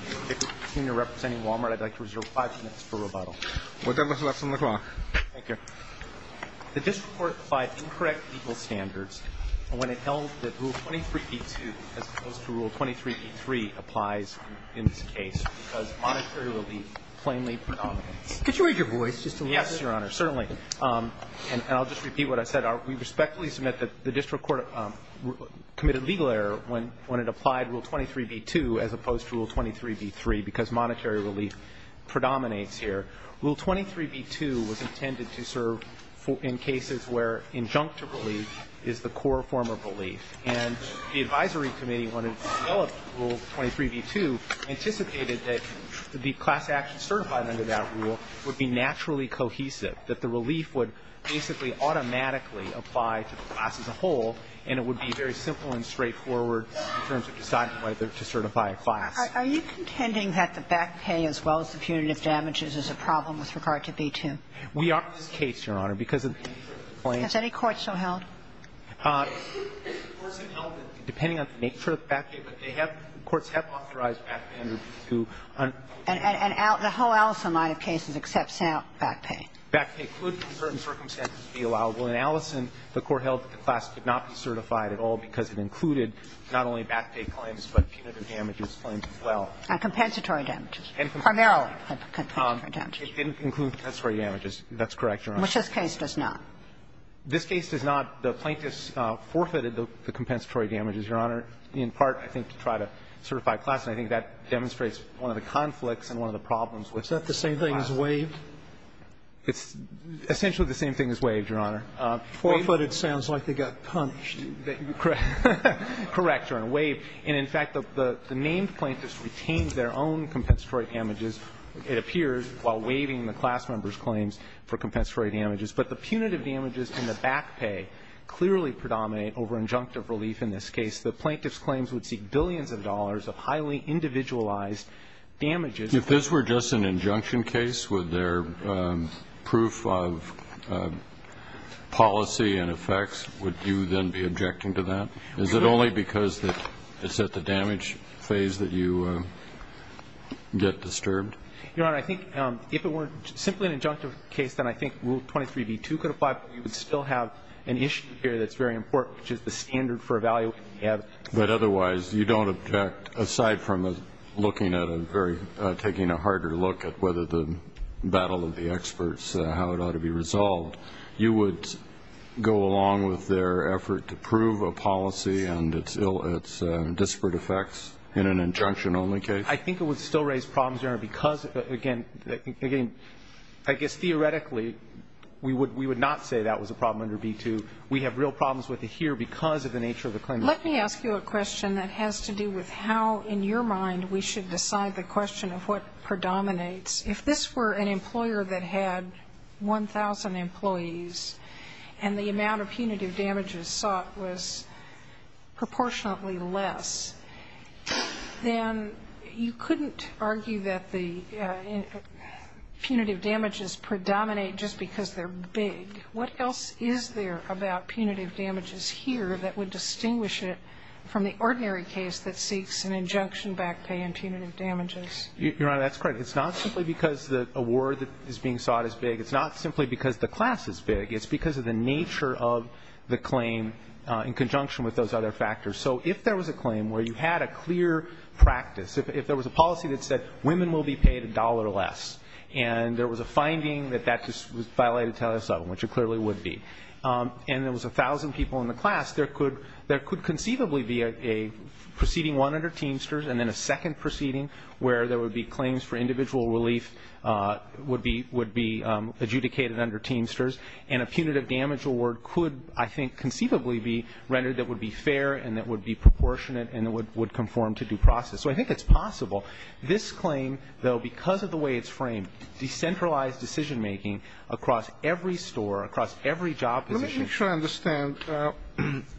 If you're representing Wal-Mart, I'd like to reserve five minutes for rebuttal. Whatever's left on the clock. Thank you. The district court applied incorrect legal standards when it held that Rule 23b-2 as opposed to Rule 23b-3 applies in this case because monetary relief plainly predominates. Could you raise your voice just a little bit? Yes, Your Honor, certainly. And I'll just repeat what I said. We respectfully submit that the district court committed legal error when it applied Rule 23b-2 as opposed to Rule 23b-3 because monetary relief predominates here. Rule 23b-2 was intended to serve in cases where injunctive relief is the core form of relief. And the advisory committee, when it developed Rule 23b-2, anticipated that the class action certified under that rule would be naturally cohesive, that the relief would basically automatically apply to the class as a whole and it would be very simple and straightforward in terms of deciding whether to certify a class. Are you contending that the back pay as well as the punitive damages is a problem with regard to B-2? We are in this case, Your Honor, because of the nature of the claim. Has any court so held? Courts have held that depending on the nature of the back pay, but they have – courts have authorized back pay under B-2. And the whole Allison line of cases accepts back pay? Back pay could, in certain circumstances, be allowable. In Allison, the court held that the class could not be certified at all because it included not only back pay claims, but punitive damages claims as well. And compensatory damages? Primarily compensatory damages. It didn't include compensatory damages. That's correct, Your Honor. Which this case does not. This case does not. The plaintiffs forfeited the compensatory damages, Your Honor, in part, I think, to try to certify a class, and I think that demonstrates one of the conflicts and one of the problems with the class. Is that the same thing as waived? It's essentially the same thing as waived, Your Honor. Waived? Forfeited sounds like they got punished. Correct, Your Honor. Waived. And in fact, the named plaintiffs retained their own compensatory damages, it appears, while waiving the class members' claims for compensatory damages. But the punitive damages and the back pay clearly predominate over injunctive relief in this case. The plaintiffs' claims would seek billions of dollars of highly individualized damages. If this were just an injunction case, would their proof of policy and effects, would you then be objecting to that? Is it only because it's at the damage phase that you get disturbed? Your Honor, I think if it were simply an injunctive case, then I think Rule 23b2 could apply, but we would still have an issue here that's very important, which is the standard for evaluating the evidence. But otherwise, you don't object, aside from looking at a very, taking a harder look at whether the battle of the experts, how it ought to be resolved, you would go along with their effort to prove a policy and its ill, its disparate effects in an injunction-only case? I think it would still raise problems, Your Honor, because, again, I guess theoretically we would not say that was a problem under b2. We have real problems with it here because of the nature of the claim. Let me ask you a question that has to do with how, in your mind, we should decide the question of what predominates. If this were an employer that had 1,000 employees and the amount of punitive damages sought was proportionately less, then you couldn't argue that the punitive damages predominate just because they're big. What else is there about punitive damages here that would distinguish it from the ordinary case that seeks an injunction-backed pay in punitive damages? Your Honor, that's correct. It's not simply because the award that is being sought is big. It's not simply because the class is big. It's because of the nature of the claim in conjunction with those other factors. So if there was a claim where you had a clear practice, if there was a policy that said women will be paid a dollar or less, and there was a finding that that was violated, which it clearly would be, and there was 1,000 people in the class, there could conceivably be a proceeding, one under Teamsters, and then a second proceeding where there would be claims for individual relief would be adjudicated under Teamsters, and a punitive damage award could, I think, conceivably be rendered that would be fair and that would be proportionate and that would conform to due process. So I think it's possible. This claim, though, because of the way it's framed, decentralized decision-making across every store, across every job position. Let me make sure I understand.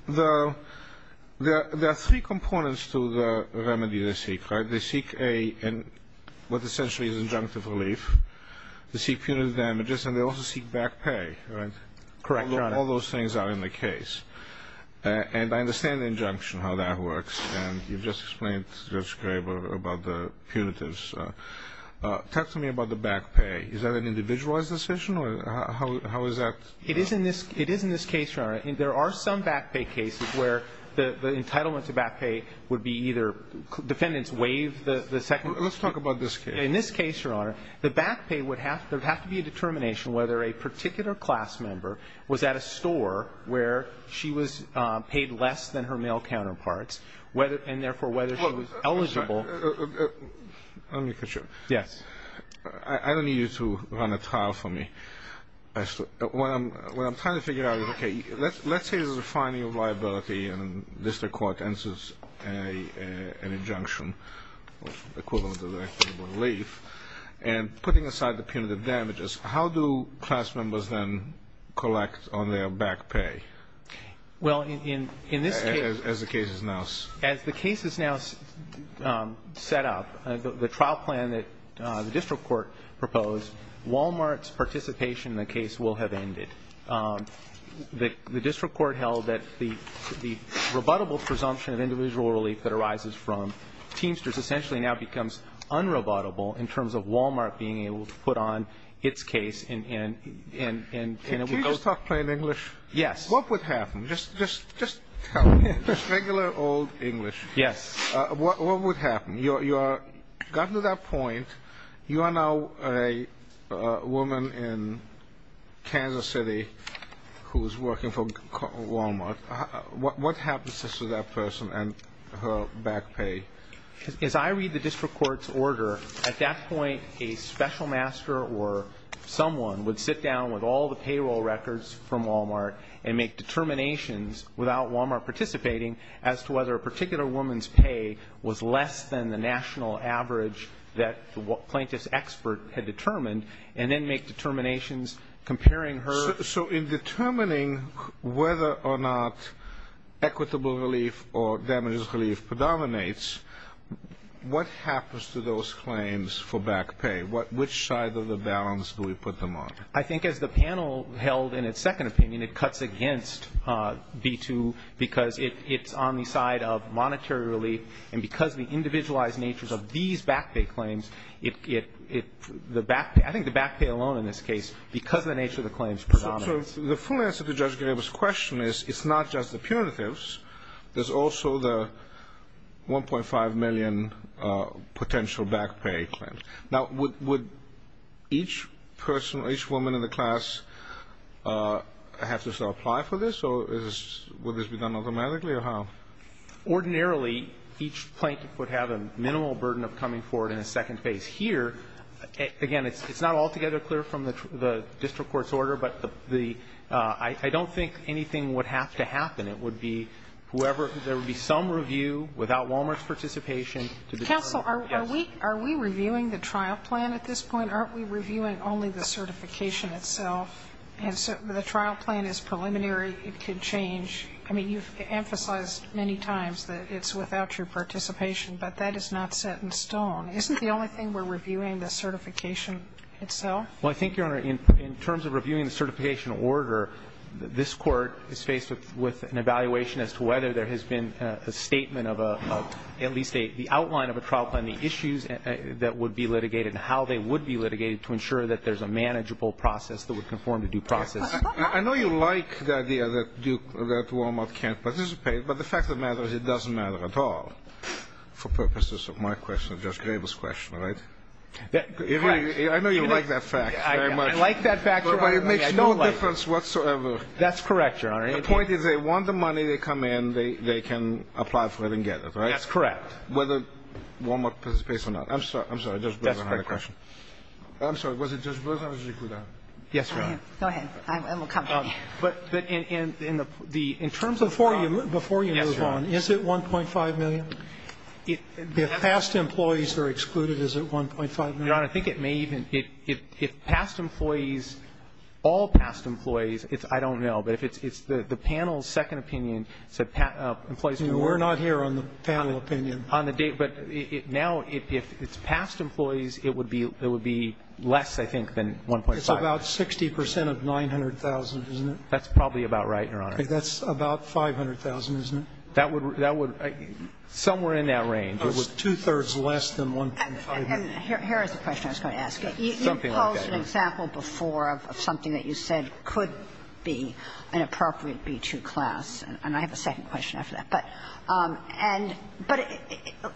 There are three components to the remedy they seek, right? They seek a what essentially is injunctive relief. They seek punitive damages, and they also seek back pay, right? Correct, Your Honor. All those things are in the case. And I understand the injunction, how that works. And you've just explained, Judge Graber, about the punitives. Talk to me about the back pay. Is that an individualized decision, or how is that? It is in this case, Your Honor. There are some back pay cases where the entitlement to back pay would be either defendants waive the second. Let's talk about this case. In this case, Your Honor, the back pay would have to be a determination whether a particular class member was at a store where she was paid less than her male counterparts, and, therefore, whether she was eligible. Let me continue. Yes. I don't need you to run a trial for me. What I'm trying to figure out is, okay, let's say there's a finding of liability and district court answers an injunction, equivalent of a relief, and putting aside the punitive damages, how do class members then collect on their back pay? Well, in this case as the case is now set up, the trial plan that the district court proposed, Walmart's participation in the case will have ended. The district court held that the rebuttable presumption of individual relief that arises from Teamsters essentially now becomes un-rebuttable in terms of Walmart being able to put on its case. Can you just talk plain English? Yes. What would happen? Just tell me, just regular old English. Yes. What would happen? You've gotten to that point. You are now a woman in Kansas City who is working for Walmart. What happens to that person and her back pay? As I read the district court's order, at that point, a special master or someone would sit down with all the payroll records from Walmart and make determinations without Walmart participating as to whether a particular woman's pay was less than the national average that the plaintiff's expert had determined and then make determinations comparing her. So in determining whether or not equitable relief or damages relief predominates, what happens to those claims for back pay? Which side of the balance do we put them on? I think as the panel held in its second opinion, it cuts against B-2 because it's on the side of monetary relief, and because of the individualized natures of these back pay claims, the back pay, I think the back pay alone in this case, because of the nature of the claims predominates. So the full answer to Judge Graber's question is it's not just the punitives. There's also the $1.5 million potential back pay claim. Now, would each person, each woman in the class have to apply for this, or would this be done automatically, or how? Ordinarily, each plaintiff would have a minimal burden of coming forward in a second phase. Here, again, it's not altogether clear from the district court's order, but I don't think anything would have to happen. It would be whoever, there would be some review without Walmart's participation to determine, yes. Sotomayor, are we reviewing the trial plan at this point? Aren't we reviewing only the certification itself? And so the trial plan is preliminary. It could change. I mean, you've emphasized many times that it's without your participation, but that is not set in stone. Isn't the only thing we're reviewing the certification itself? Well, I think, Your Honor, in terms of reviewing the certification order, this Court is faced with an evaluation as to whether there has been a statement of a, at least the outline of a trial plan, the issues that would be litigated and how they would be litigated to ensure that there's a manageable process that would conform to due process. I know you like the idea that Walmart can't participate, but the fact of the matter is it doesn't matter at all for purposes of my question and Judge Grable's question, right? Correct. I know you like that fact very much. I like that fact, Your Honor. But it makes no difference whatsoever. That's correct, Your Honor. The point is they want the money. They come in. They can apply for it and get it, right? That's correct. Whether Walmart participates or not. I'm sorry. I'm sorry. Judge Bergeron had a question. I'm sorry. Was it Judge Bergeron or did you include her? Go ahead. I'm accompanying you. But in the terms of the problem, yes, Your Honor. Before you move on, is it 1.5 million? If past employees are excluded, is it 1.5 million? Your Honor, I think it may even be. If past employees, all past employees, I don't know. But if it's the panel's second opinion, employees can work. We're not here on the panel opinion. On the date. But now if it's past employees, it would be less, I think, than 1.5. It's about 60 percent of 900,000, isn't it? That's probably about right, Your Honor. That's about 500,000, isn't it? That would be somewhere in that range. It's two-thirds less than 1.5. And here is the question I was going to ask you. You posed an example before of something that you said could be an appropriate B-2 class, and I have a second question after that. But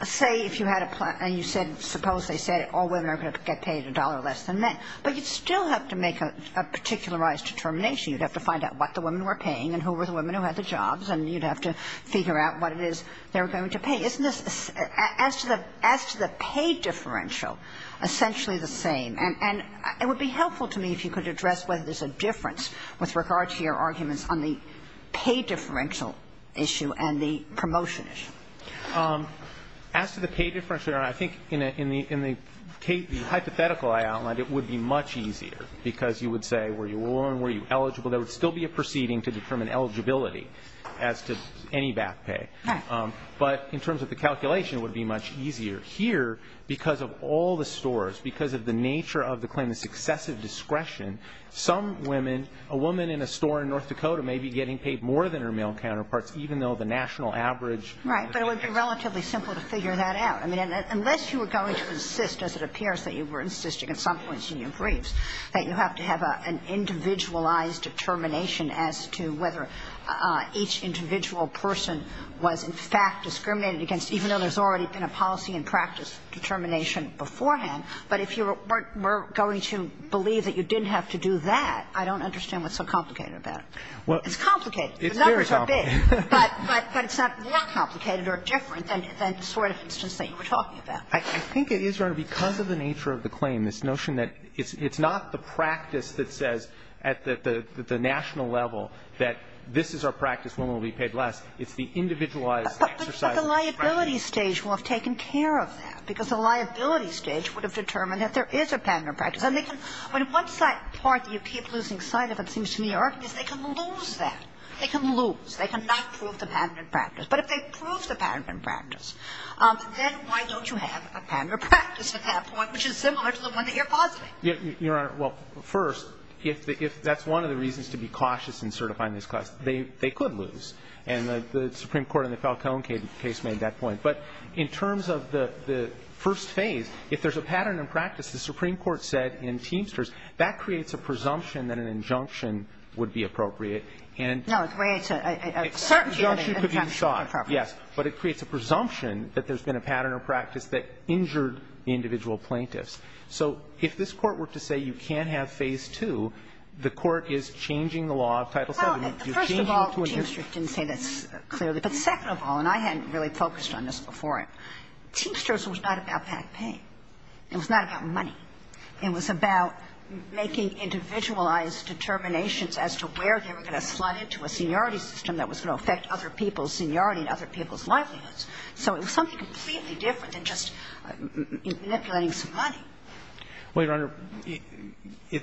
say if you had a plan and you said, suppose they said all women are going to get paid a dollar less than men. But you'd still have to make a particularized determination. You'd have to find out what the women were paying and who were the women who had the jobs, and you'd have to figure out what it is they were going to pay. Isn't this, as to the pay differential, essentially the same? And it would be helpful to me if you could address whether there's a difference with regard to your arguments on the pay differential issue and the promotion issue. As to the pay differential, Your Honor, I think in the hypothetical I outlined, it would be much easier, because you would say were you woman, were you eligible. There would still be a proceeding to determine eligibility as to any back pay. Right. But in terms of the calculation, it would be much easier. Here, because of all the stores, because of the nature of the claimant's excessive discretion, some women, a woman in a store in North Dakota may be getting paid more than her male counterparts, even though the national average. Right. But it would be relatively simple to figure that out. I mean, unless you were going to insist, as it appears that you were insisting at some points in your briefs, that you have to have an individualized determination as to whether each individual person was, in fact, discriminated against, even though there's already been a policy and practice determination beforehand. But if you were going to believe that you didn't have to do that, I don't understand what's so complicated about it. It's complicated. The numbers are big. But it's not more complicated or different than the sort of instance that you were talking about. I think it is, Your Honor, because of the nature of the claim, this notion that it's not the practice that says at the national level that this is our practice, women will be paid less. It's the individualized exercise of the practice. But the liability stage will have taken care of that, because the liability stage would have determined that there is a patent and practice. And they can – I mean, one part that you keep losing sight of, it seems to me, is they can lose that. They can lose. They cannot prove the patent and practice. But if they prove the patent and practice, then why don't you have a patent and practice at that point, which is similar to the one that you're positing? You're right. Well, first, if that's one of the reasons to be cautious in certifying this class, they could lose. And the Supreme Court in the Falcone case made that point. But in terms of the first phase, if there's a pattern and practice, the Supreme Court said in Teamsters, that creates a presumption that an injunction would be appropriate. And the injunction could be sought, yes, but it creates a presumption that there's been a pattern or practice that injured the individual plaintiffs. So if this Court were to say you can't have Phase 2, the Court is changing the law of Title VII. You're changing it to an injunction. Well, first of all, Teamsters didn't say this clearly. But second of all, and I hadn't really focused on this before, Teamsters was not about patent pay. It was not about money. It was about making individualized determinations as to where they were going to slide into a seniority system that was going to affect other people's seniority and other people's livelihoods. So it was something completely different than just manipulating some money. Well, Your Honor,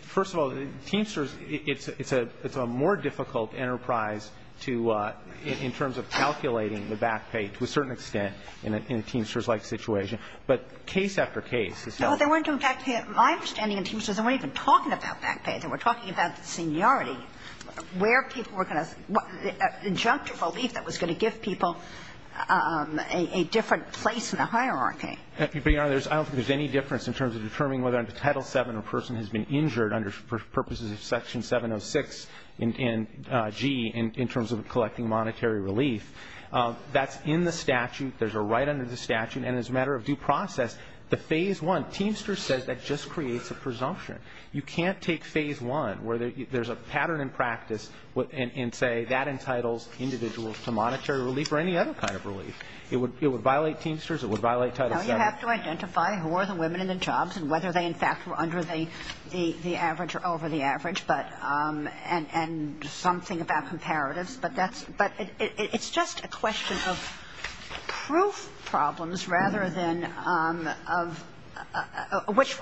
first of all, Teamsters, it's a more difficult enterprise to, in terms of calculating the back pay to a certain extent in a Teamsters-like situation. But case after case, it's not like that. Well, they weren't doing back pay. My understanding in Teamsters, they weren't even talking about back pay. They were talking about seniority, where people were going to – the injunctive relief that was going to give people a different place in the hierarchy. But, Your Honor, I don't think there's any difference in terms of determining whether under Title VII a person has been injured under purposes of Section 706-G in terms of collecting monetary relief. That's in the statute. There's a right under the statute. And as a matter of due process, the Phase I, Teamsters says that just creates a presumption. You can't take Phase I, where there's a pattern in practice and say that entitles individuals to monetary relief or any other kind of relief. It would violate Teamsters. It would violate Title VII. Now, you have to identify who are the women in the jobs and whether they, in fact, were under the average or over the average and something about comparatives. But it's just a question of proof problems rather than of which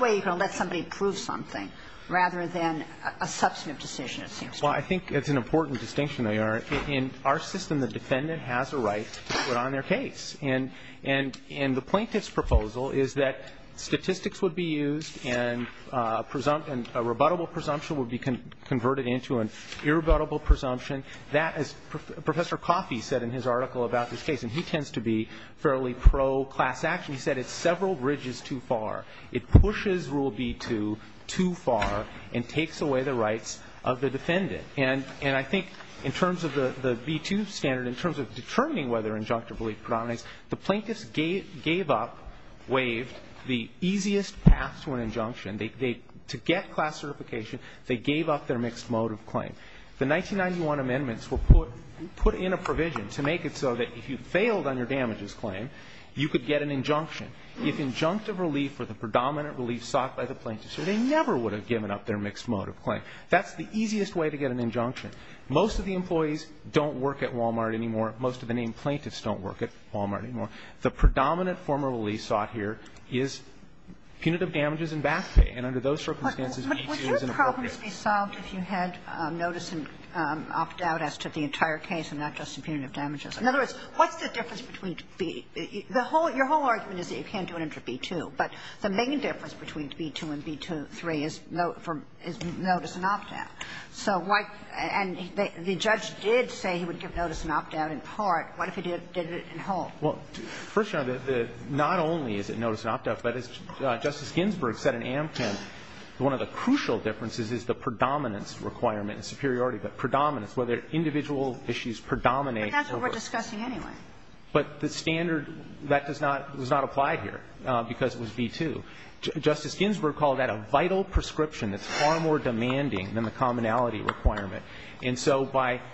way you're going to let somebody prove something rather than a substantive decision, it seems to me. Well, I think it's an important distinction, Your Honor. In our system, the defendant has a right to put on their case. And the plaintiff's proposal is that statistics would be used and a rebuttable presumption would be converted into an irrebuttable presumption. That, as Professor Coffey said in his article about this case, and he tends to be fairly pro-class action, he said it's several bridges too far. It pushes Rule B-2 too far and takes away the rights of the defendant. And I think in terms of the B-2 standard, in terms of determining whether injunctive relief predominates, the plaintiffs gave up, waived the easiest path to an injunction. To get class certification, they gave up their mixed motive claim. The 1991 amendments will put in a provision to make it so that if you failed on your damages claim, you could get an injunction. If injunctive relief were the predominant relief sought by the plaintiffs, they never would have given up their mixed motive claim. That's the easiest way to get an injunction. Most of the employees don't work at Wal-Mart anymore. Most of the named plaintiffs don't work at Wal-Mart anymore. The predominant form of relief sought here is punitive damages and back pay. And under those circumstances, B-2 is inappropriate. But would your problems be solved if you had notice and opt out as to the entire case and not just the punitive damages? In other words, what's the difference between the – the whole – your whole argument is that you can't do it under B-2. But the main difference between B-2 and B-3 is notice and opt out. So what – and the judge did say he would give notice and opt out in part. What if he did it in whole? Well, first, Your Honor, the – not only is it notice and opt out, but as Justice Ginsburg said in Amkin, one of the crucial differences is the predominance requirement, superiority, but predominance, whether individual issues predominate over us. But that's what we're discussing anyway. But the standard, that does not – does not apply here because it was B-2. Justice Ginsburg called that a vital prescription. It's far more demanding than the commonality requirement. And so by –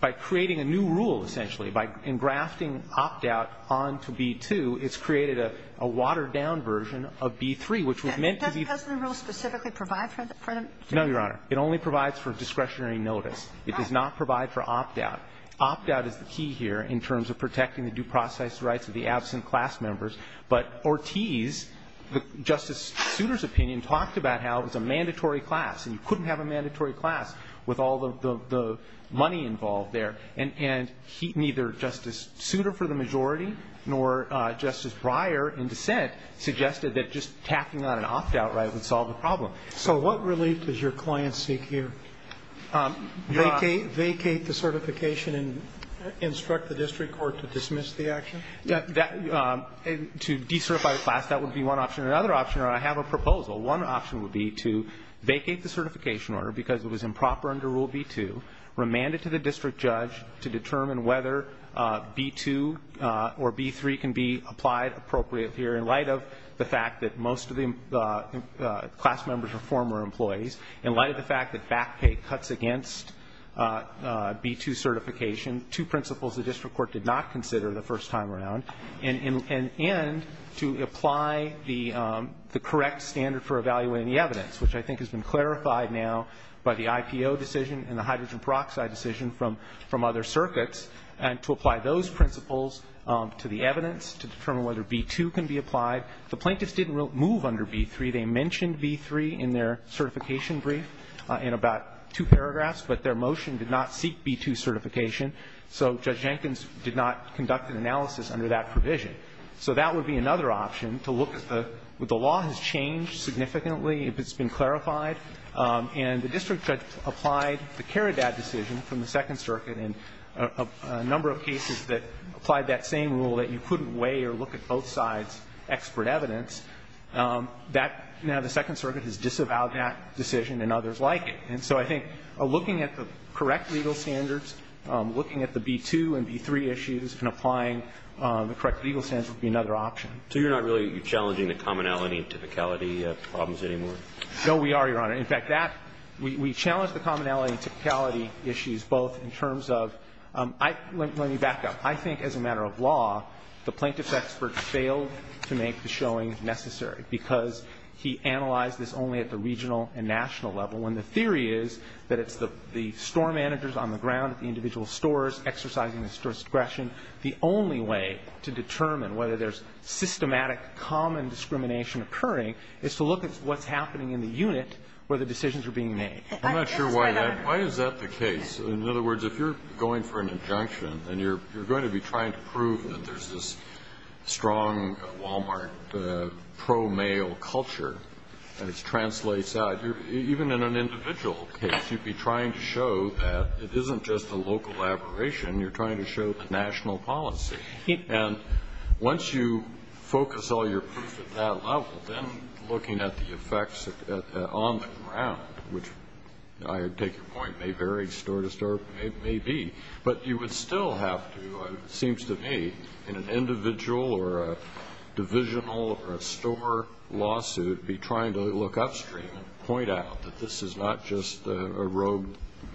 by creating a new rule, essentially, by engrafting opt out onto B-2, it's created a – a watered-down version of B-3, which was meant to be – Doesn't the rule specifically provide for the predominance? No, Your Honor. It only provides for discretionary notice. It does not provide for opt out. Opt out is the key here in terms of protecting the due process rights of the absent class members. But Ortiz, Justice Souter's opinion, talked about how it was a mandatory class and you couldn't have a mandatory class with all the – the money involved there. And he – neither Justice Souter for the majority nor Justice Breyer in dissent suggested that just tacking on an opt out right would solve the problem. So what relief does your client seek here? Vacate the certification and instruct the district court to dismiss the action? That – to decertify the class, that would be one option. Another option, Your Honor, I have a proposal. One option would be to vacate the certification order because it was improper under Rule B-2, remand it to the district judge to determine whether B-2 or B-3 can be applied appropriately here in light of the fact that most of the class members are former employees. In light of the fact that vacate cuts against B-2 certification, two principles the district court did not consider the first time around. And to apply the correct standard for evaluating the evidence, which I think has been clarified now by the IPO decision and the hydrogen peroxide decision from other circuits, and to apply those principles to the evidence to determine whether B-2 can be applied. The plaintiffs didn't move under B-3. They mentioned B-3 in their certification brief in about two paragraphs, but their motion did not seek B-2 certification, so Judge Jenkins did not conduct an analysis under that provision. So that would be another option, to look at the – the law has changed significantly if it's been clarified, and the district judge applied the Caridad decision from the Second Circuit and a number of cases that applied that same rule that you couldn't weigh or look at both sides' expert evidence. That – now the Second Circuit has disavowed that decision and others like it. And so I think looking at the correct legal standards, looking at the B-2 and B-3 issues and applying the correct legal standards would be another option. So you're not really challenging the commonality and typicality problems anymore? No, we are, Your Honor. In fact, that – we challenge the commonality and typicality issues both in terms of – let me back up. I think as a matter of law, the plaintiff's expert failed to make the showing necessary because he analyzed this only at the regional and national level, when the theory is that it's the store managers on the ground at the individual stores exercising the store's discretion. The only way to determine whether there's systematic common discrimination occurring is to look at what's happening in the unit where the decisions are being made. I'm not sure why that – why is that the case? In other words, if you're going for an injunction and you're going to be trying to prove that there's this strong Walmart pro-male culture and it translates out, even in an individual case, you'd be trying to show that it isn't just a local aberration. You're trying to show the national policy. And once you focus all your proof at that level, then looking at the effects on the ground, which I take your point, may vary store to store, may be, but you would still have to, it seems to me, in an individual or a divisional or a store lawsuit, be trying to look upstream and point out that this is not just a rogue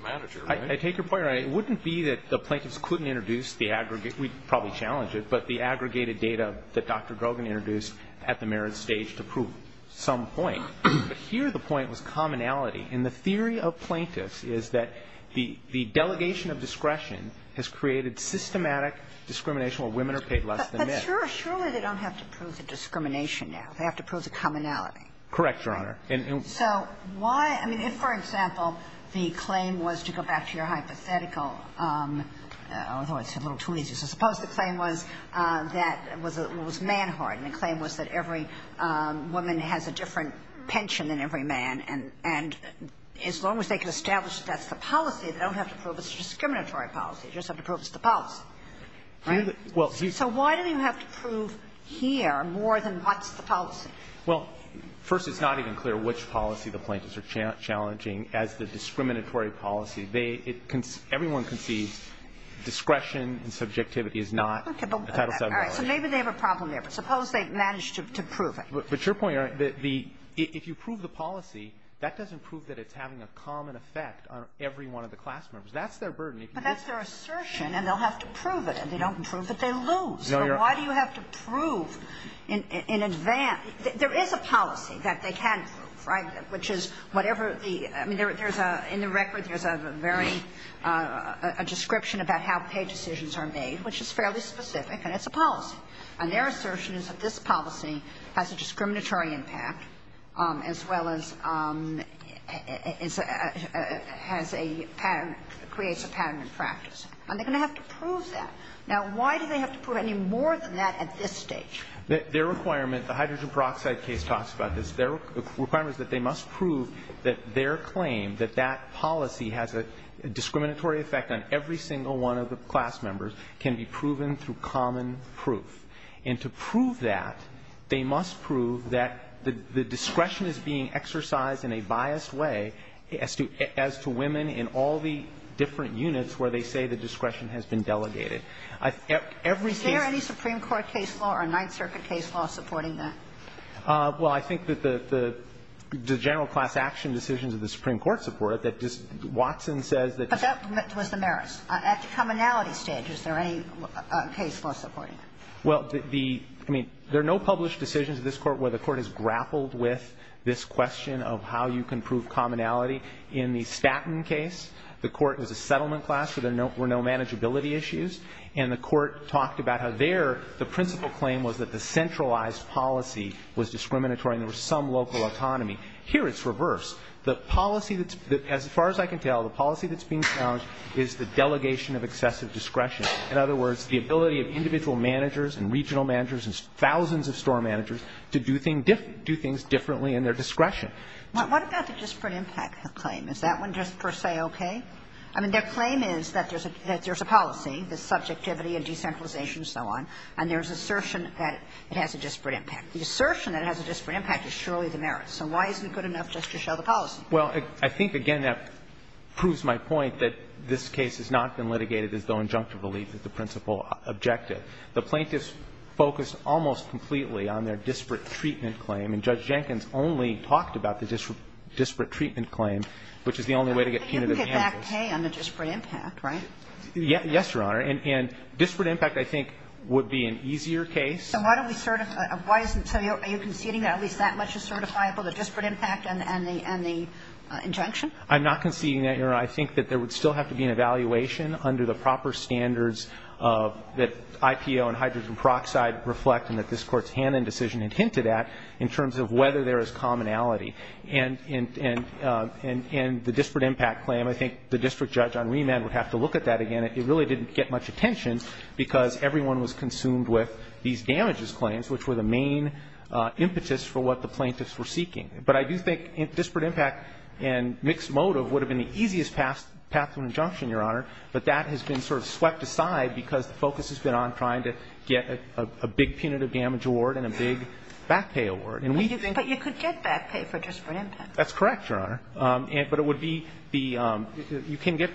manager, right? I take your point. It wouldn't be that the plaintiffs couldn't introduce the aggregate – we'd probably challenge it – but the aggregated data that Dr. Grogan introduced at the merit stage to prove some point. But here the point was commonality. And the theory of plaintiffs is that the delegation of discretion has created systematic discrimination where women are paid less than men. But surely they don't have to prove the discrimination now. They have to prove the commonality. Correct, Your Honor. So why – I mean, if, for example, the claim was to go back to your hypothetical – although it's a little too easy. So suppose the claim was that it was man-hardened. And the claim was that every woman has a different pension than every man. And as long as they can establish that that's the policy, they don't have to prove it's a discriminatory policy. They just have to prove it's the policy. Right? So why do you have to prove here more than what's the policy? Well, first, it's not even clear which policy the plaintiffs are challenging as the discriminatory policy. Everyone concedes discretion and subjectivity is not a title VII violation. All right. So maybe they have a problem there. But suppose they've managed to prove it. But your point, Your Honor, the – if you prove the policy, that doesn't prove that it's having a common effect on every one of the class members. That's their burden. But that's their assertion, and they'll have to prove it. And if they don't prove it, they lose. No, Your Honor. So why do you have to prove in advance? There is a policy that they can prove, right, which is whatever the – I mean, there is a – in the record, there is a very – a description about how pay decisions are made, which is fairly specific, and it's a policy. And their assertion is that this policy has a discriminatory impact as well as has a pattern – creates a pattern in practice. And they're going to have to prove that. Now, why do they have to prove any more than that at this stage? Their requirement – the hydrogen peroxide case talks about this. Their requirement is that they must prove that their claim, that that policy has a discriminatory effect on every single one of the class members, can be proven through common proof. And to prove that, they must prove that the discretion is being exercised in a biased way as to – as to women in all the different units where they say the discretion has been delegated. Every case – Is there any Supreme Court case law or Ninth Circuit case law supporting that? Well, I think that the general class action decisions of the Supreme Court support that just – Watson says that – But that was the merits. At the commonality stage, is there any case law supporting that? Well, the – I mean, there are no published decisions of this Court where the Court has grappled with this question of how you can prove commonality. In the Statton case, the Court was a settlement class where there were no manageability issues, and the Court talked about how there the principal claim was that the centralized policy was discriminatory and there was some local autonomy. Here it's reversed. The policy that's – as far as I can tell, the policy that's being challenged is the delegation of excessive discretion. In other words, the ability of individual managers and regional managers and thousands of store managers to do things – do things differently in their discretion. What about the disparate impact claim? Is that one just per se okay? I mean, their claim is that there's a policy, the subjectivity and decentralization and so on, and there's assertion that it has a disparate impact. The assertion that it has a disparate impact is surely the merits. So why isn't it good enough just to show the policy? Well, I think, again, that proves my point that this case has not been litigated as though injunctive relief is the principal objective. The plaintiffs focused almost completely on their disparate treatment claim, and Judge Jenkins only talked about the disparate treatment claim, which is the only way to get punitive damages. But you can get back pay on the disparate impact, right? Yes, Your Honor. And disparate impact, I think, would be an easier case. So are you conceding that at least that much is certifiable, the disparate impact and the injunction? I'm not conceding that, Your Honor. I think that there would still have to be an evaluation under the proper standards that IPO and hydrogen peroxide reflect and that this Court's Hannon decision had hinted at in terms of whether there is commonality. And the disparate impact claim, I think the district judge on remand would have to look at that again. It really didn't get much attention because everyone was consumed with these damages claims, which were the main impetus for what the plaintiffs were seeking. But I do think disparate impact and mixed motive would have been the easiest path to an injunction, Your Honor. But that has been sort of swept aside because the focus has been on trying to get a big punitive damage award and a big back pay award. But you could get back pay for disparate impact. That's correct, Your Honor. But it would be the you can get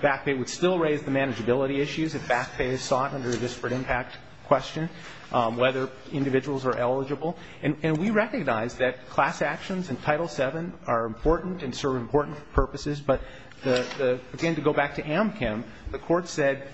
back pay. It would still raise the manageability issues if back pay is sought under a disparate impact question, whether individuals are eligible. And we recognize that class actions in Title VII are important and serve important purposes. But again, to go back to Amchem, the courts said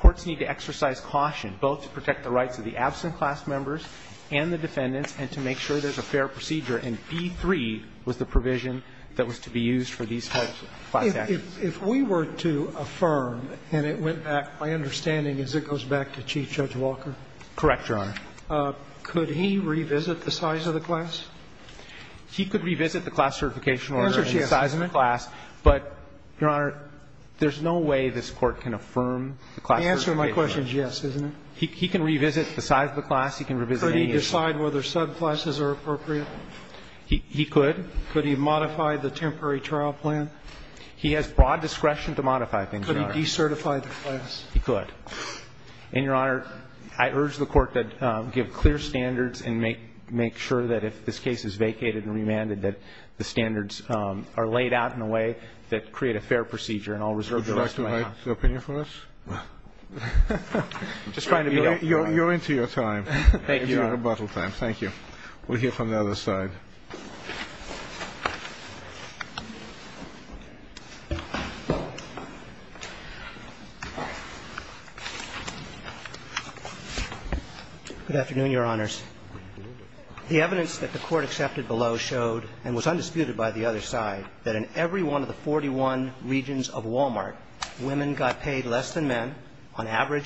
courts need to exercise caution both to protect the rights of the absent class members and the defendants and to make sure there's a fair procedure. And B-3 was the provision that was to be used for these types of class actions. If we were to affirm, and it went back, my understanding is it goes back to Chief Judge Walker. Correct, Your Honor. Could he revisit the size of the class? He could revisit the class certification order and the size of the class, but, Your Honor, there's no way this Court can affirm the class certification order. The answer to my question is yes, isn't it? He can revisit the size of the class. He can revisit any of the class. Could he decide whether subclasses are appropriate? He could. Could he modify the temporary trial plan? He has broad discretion to modify things, Your Honor. Could he decertify the class? He could. And, Your Honor, I urge the Court to give clear standards and make sure that if this case is vacated and remanded, that the standards are laid out in a way that create a fair procedure in all reserved areas. Would you like to write an opinion for us? I'm just trying to be helpful. You're into your time. Thank you, Your Honor. Your rebuttal time. Thank you. We'll hear from the other side. Good afternoon, Your Honors. The evidence that the Court accepted below showed, and was undisputed by the other side, that in every one of the 41 regions of Walmart, women got paid less than men, and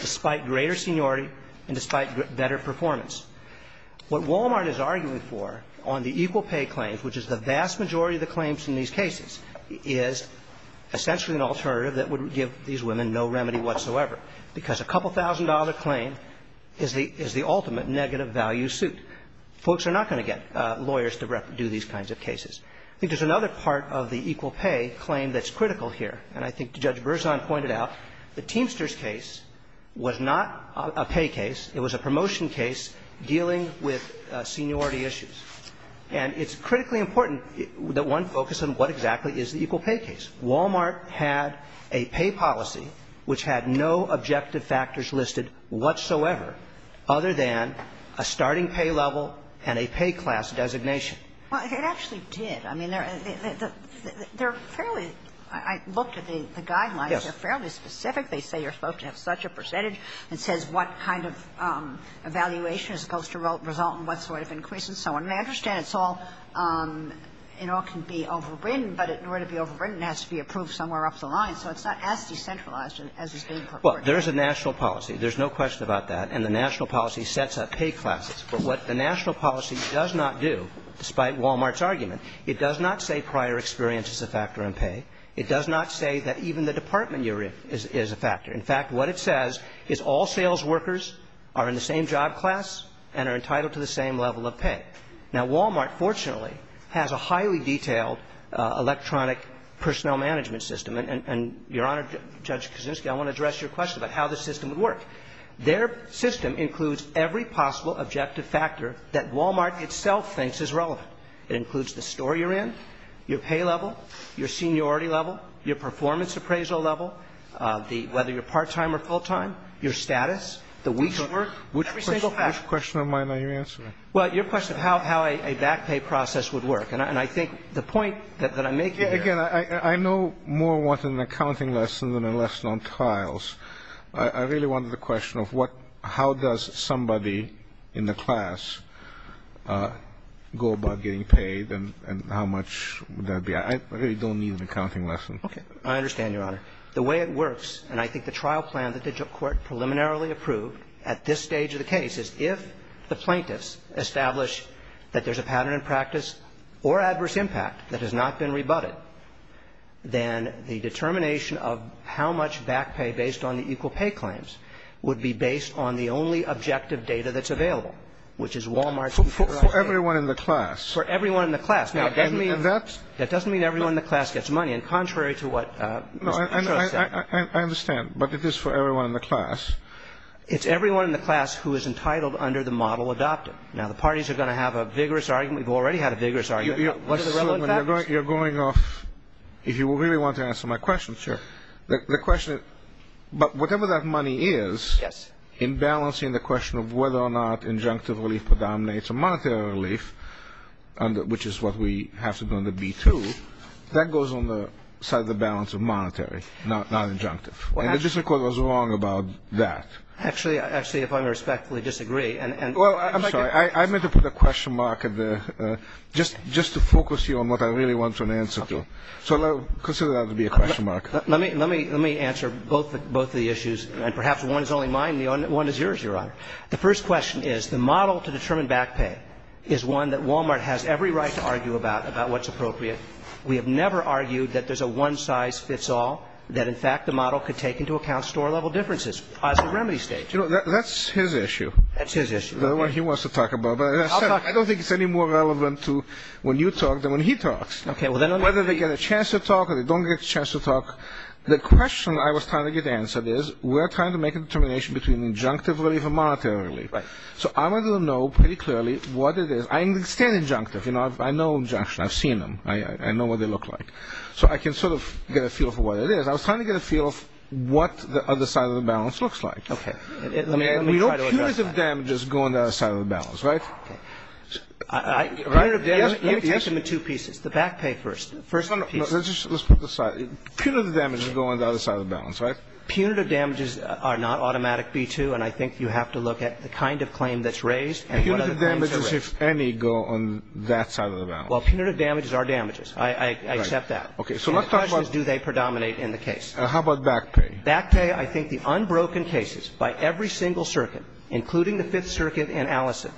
despite better performance. What Walmart is arguing for on the equal pay claims, which is the vast majority of the claims in these cases, is essentially an alternative that would give these women no remedy whatsoever, because a couple-thousand-dollar claim is the ultimate negative value suit. Folks are not going to get lawyers to do these kinds of cases. I think there's another part of the equal pay claim that's critical here, and I think Judge Berzon pointed out, the Teamsters case was not a pay case. It was a promotion case dealing with seniority issues. And it's critically important that one focus on what exactly is the equal pay case. Walmart had a pay policy which had no objective factors listed whatsoever other than a starting pay level and a pay class designation. Well, it actually did. I mean, they're fairly – I looked at the guidelines. They're fairly specific. They say you're supposed to have such a percentage. It says what kind of evaluation is supposed to result in what sort of increase and so on. And I understand it's all – you know, it can be overwritten, but in order to be overwritten, it has to be approved somewhere up the line. So it's not as decentralized as is being purported. Well, there is a national policy. There's no question about that. And the national policy sets up pay classes. But what the national policy does not do, despite Walmart's argument, it does not say prior experience is a factor in pay. It does not say that even the department you're in is a factor. In fact, what it says is all sales workers are in the same job class and are entitled to the same level of pay. Now, Walmart, fortunately, has a highly detailed electronic personnel management system. And, Your Honor, Judge Kuczynski, I want to address your question about how this system would work. Their system includes every possible objective factor that Walmart itself thinks is relevant. It includes the store you're in, your pay level, your seniority level, your performance appraisal level, the – whether you're part-time or full-time, your status, the weeks of work, every single – Which question of mine are you answering? Well, your question of how a back pay process would work. And I think the point that I'm making here – Again, I know more what an accounting lesson than a lesson on tiles. I really wanted the question of what – how does somebody in the class go about getting paid and how much would that be? I really don't need an accounting lesson. Okay. I understand, Your Honor. The way it works, and I think the trial plan that the court preliminarily approved at this stage of the case is if the plaintiffs establish that there's a pattern in practice or adverse impact that has not been rebutted, then the determination of how much back pay based on the equal pay claims would be based on the only objective data that's available, which is Wal-Mart's – For everyone in the class. For everyone in the class. Now, that doesn't mean – And that's – That doesn't mean everyone in the class gets money. And contrary to what Mr. Petros said – No, I understand. But it is for everyone in the class. It's everyone in the class who is entitled under the model adopted. Now, the parties are going to have a vigorous argument. We've already had a vigorous argument. What are the relevant factors? You're going off – if you really want to answer my question. Sure. The question – but whatever that money is – Yes. In balancing the question of whether or not injunctive relief predominates or monetary relief, which is what we have to do under B-2, that goes on the side of the balance of monetary, not injunctive. And the district court was wrong about that. Actually, if I may respectfully disagree – Well, I'm sorry. I meant to put a question mark just to focus you on what I really want an answer to. So consider that to be a question mark. Let me answer both of the issues. And perhaps one is only mine. The other one is yours, Your Honor. The first question is the model to determine back pay is one that Wal-Mart has every right to argue about, about what's appropriate. We have never argued that there's a one-size-fits-all, that, in fact, the model could take into account store-level differences as a remedy stage. That's his issue. That's his issue. That's what he wants to talk about. But as I said, I don't think it's any more relevant to when you talk than when he talks. Whether they get a chance to talk or they don't get a chance to talk, the question I was trying to get answered is we're trying to make a determination between injunctive relief and monetary relief. So I want to know pretty clearly what it is. I understand injunctive. I know injunction. I've seen them. I know what they look like. So I can sort of get a feel for what it is. I was trying to get a feel of what the other side of the balance looks like. Okay. Let me try to address that. I mean, we know punitive damages go on the other side of the balance, right? Punitive damages? Yes. Let me take them in two pieces. The back pay first. First piece. Let's put this aside. Punitive damages go on the other side of the balance, right? Punitive damages are not automatic B-2, and I think you have to look at the kind of claim that's raised and what other claims are raised. Punitive damages, if any, go on that side of the balance. Well, punitive damages are damages. I accept that. Okay. So let's talk about the questions. Do they predominate in the case? How about back pay? Back pay, I think the unbroken cases by every single circuit, including the Fifth Circuit and Allison,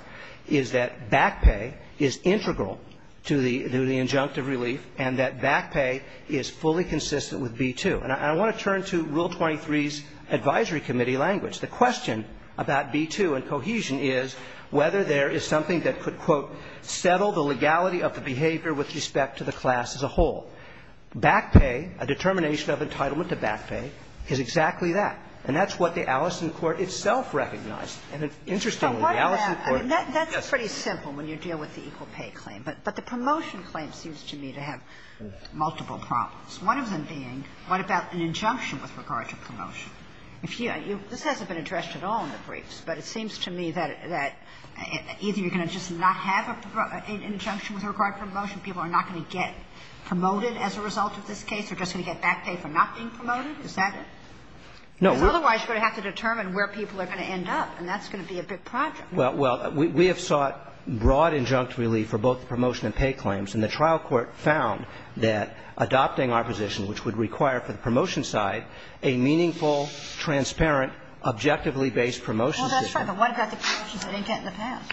is that back pay is integral to the injunctive relief and that back pay is fully consistent with B-2. And I want to turn to Rule 23's advisory committee language. The question about B-2 and cohesion is whether there is something that could, quote, settle the legality of the behavior with respect to the class as a whole. Back pay, a determination of entitlement to back pay, is exactly that. And that's what the Allison court itself recognized. And interestingly, the Allison court yes. That's pretty simple when you deal with the equal pay claim. But the promotion claim seems to me to have multiple problems. One of them being, what about an injunction with regard to promotion? This hasn't been addressed at all in the briefs, but it seems to me that either you're going to just not have an injunction with regard to promotion, people are not going to get promoted as a result of this case. They're just going to get back pay for not being promoted. Is that it? Otherwise, you're going to have to determine where people are going to end up. And that's going to be a big project. Well, we have sought broad injunctive relief for both the promotion and pay claims. And the trial court found that adopting our position, which would require for the promotion side a meaningful, transparent, objectively based promotion system. Well, that's right. But what about the promotions they didn't get in the past?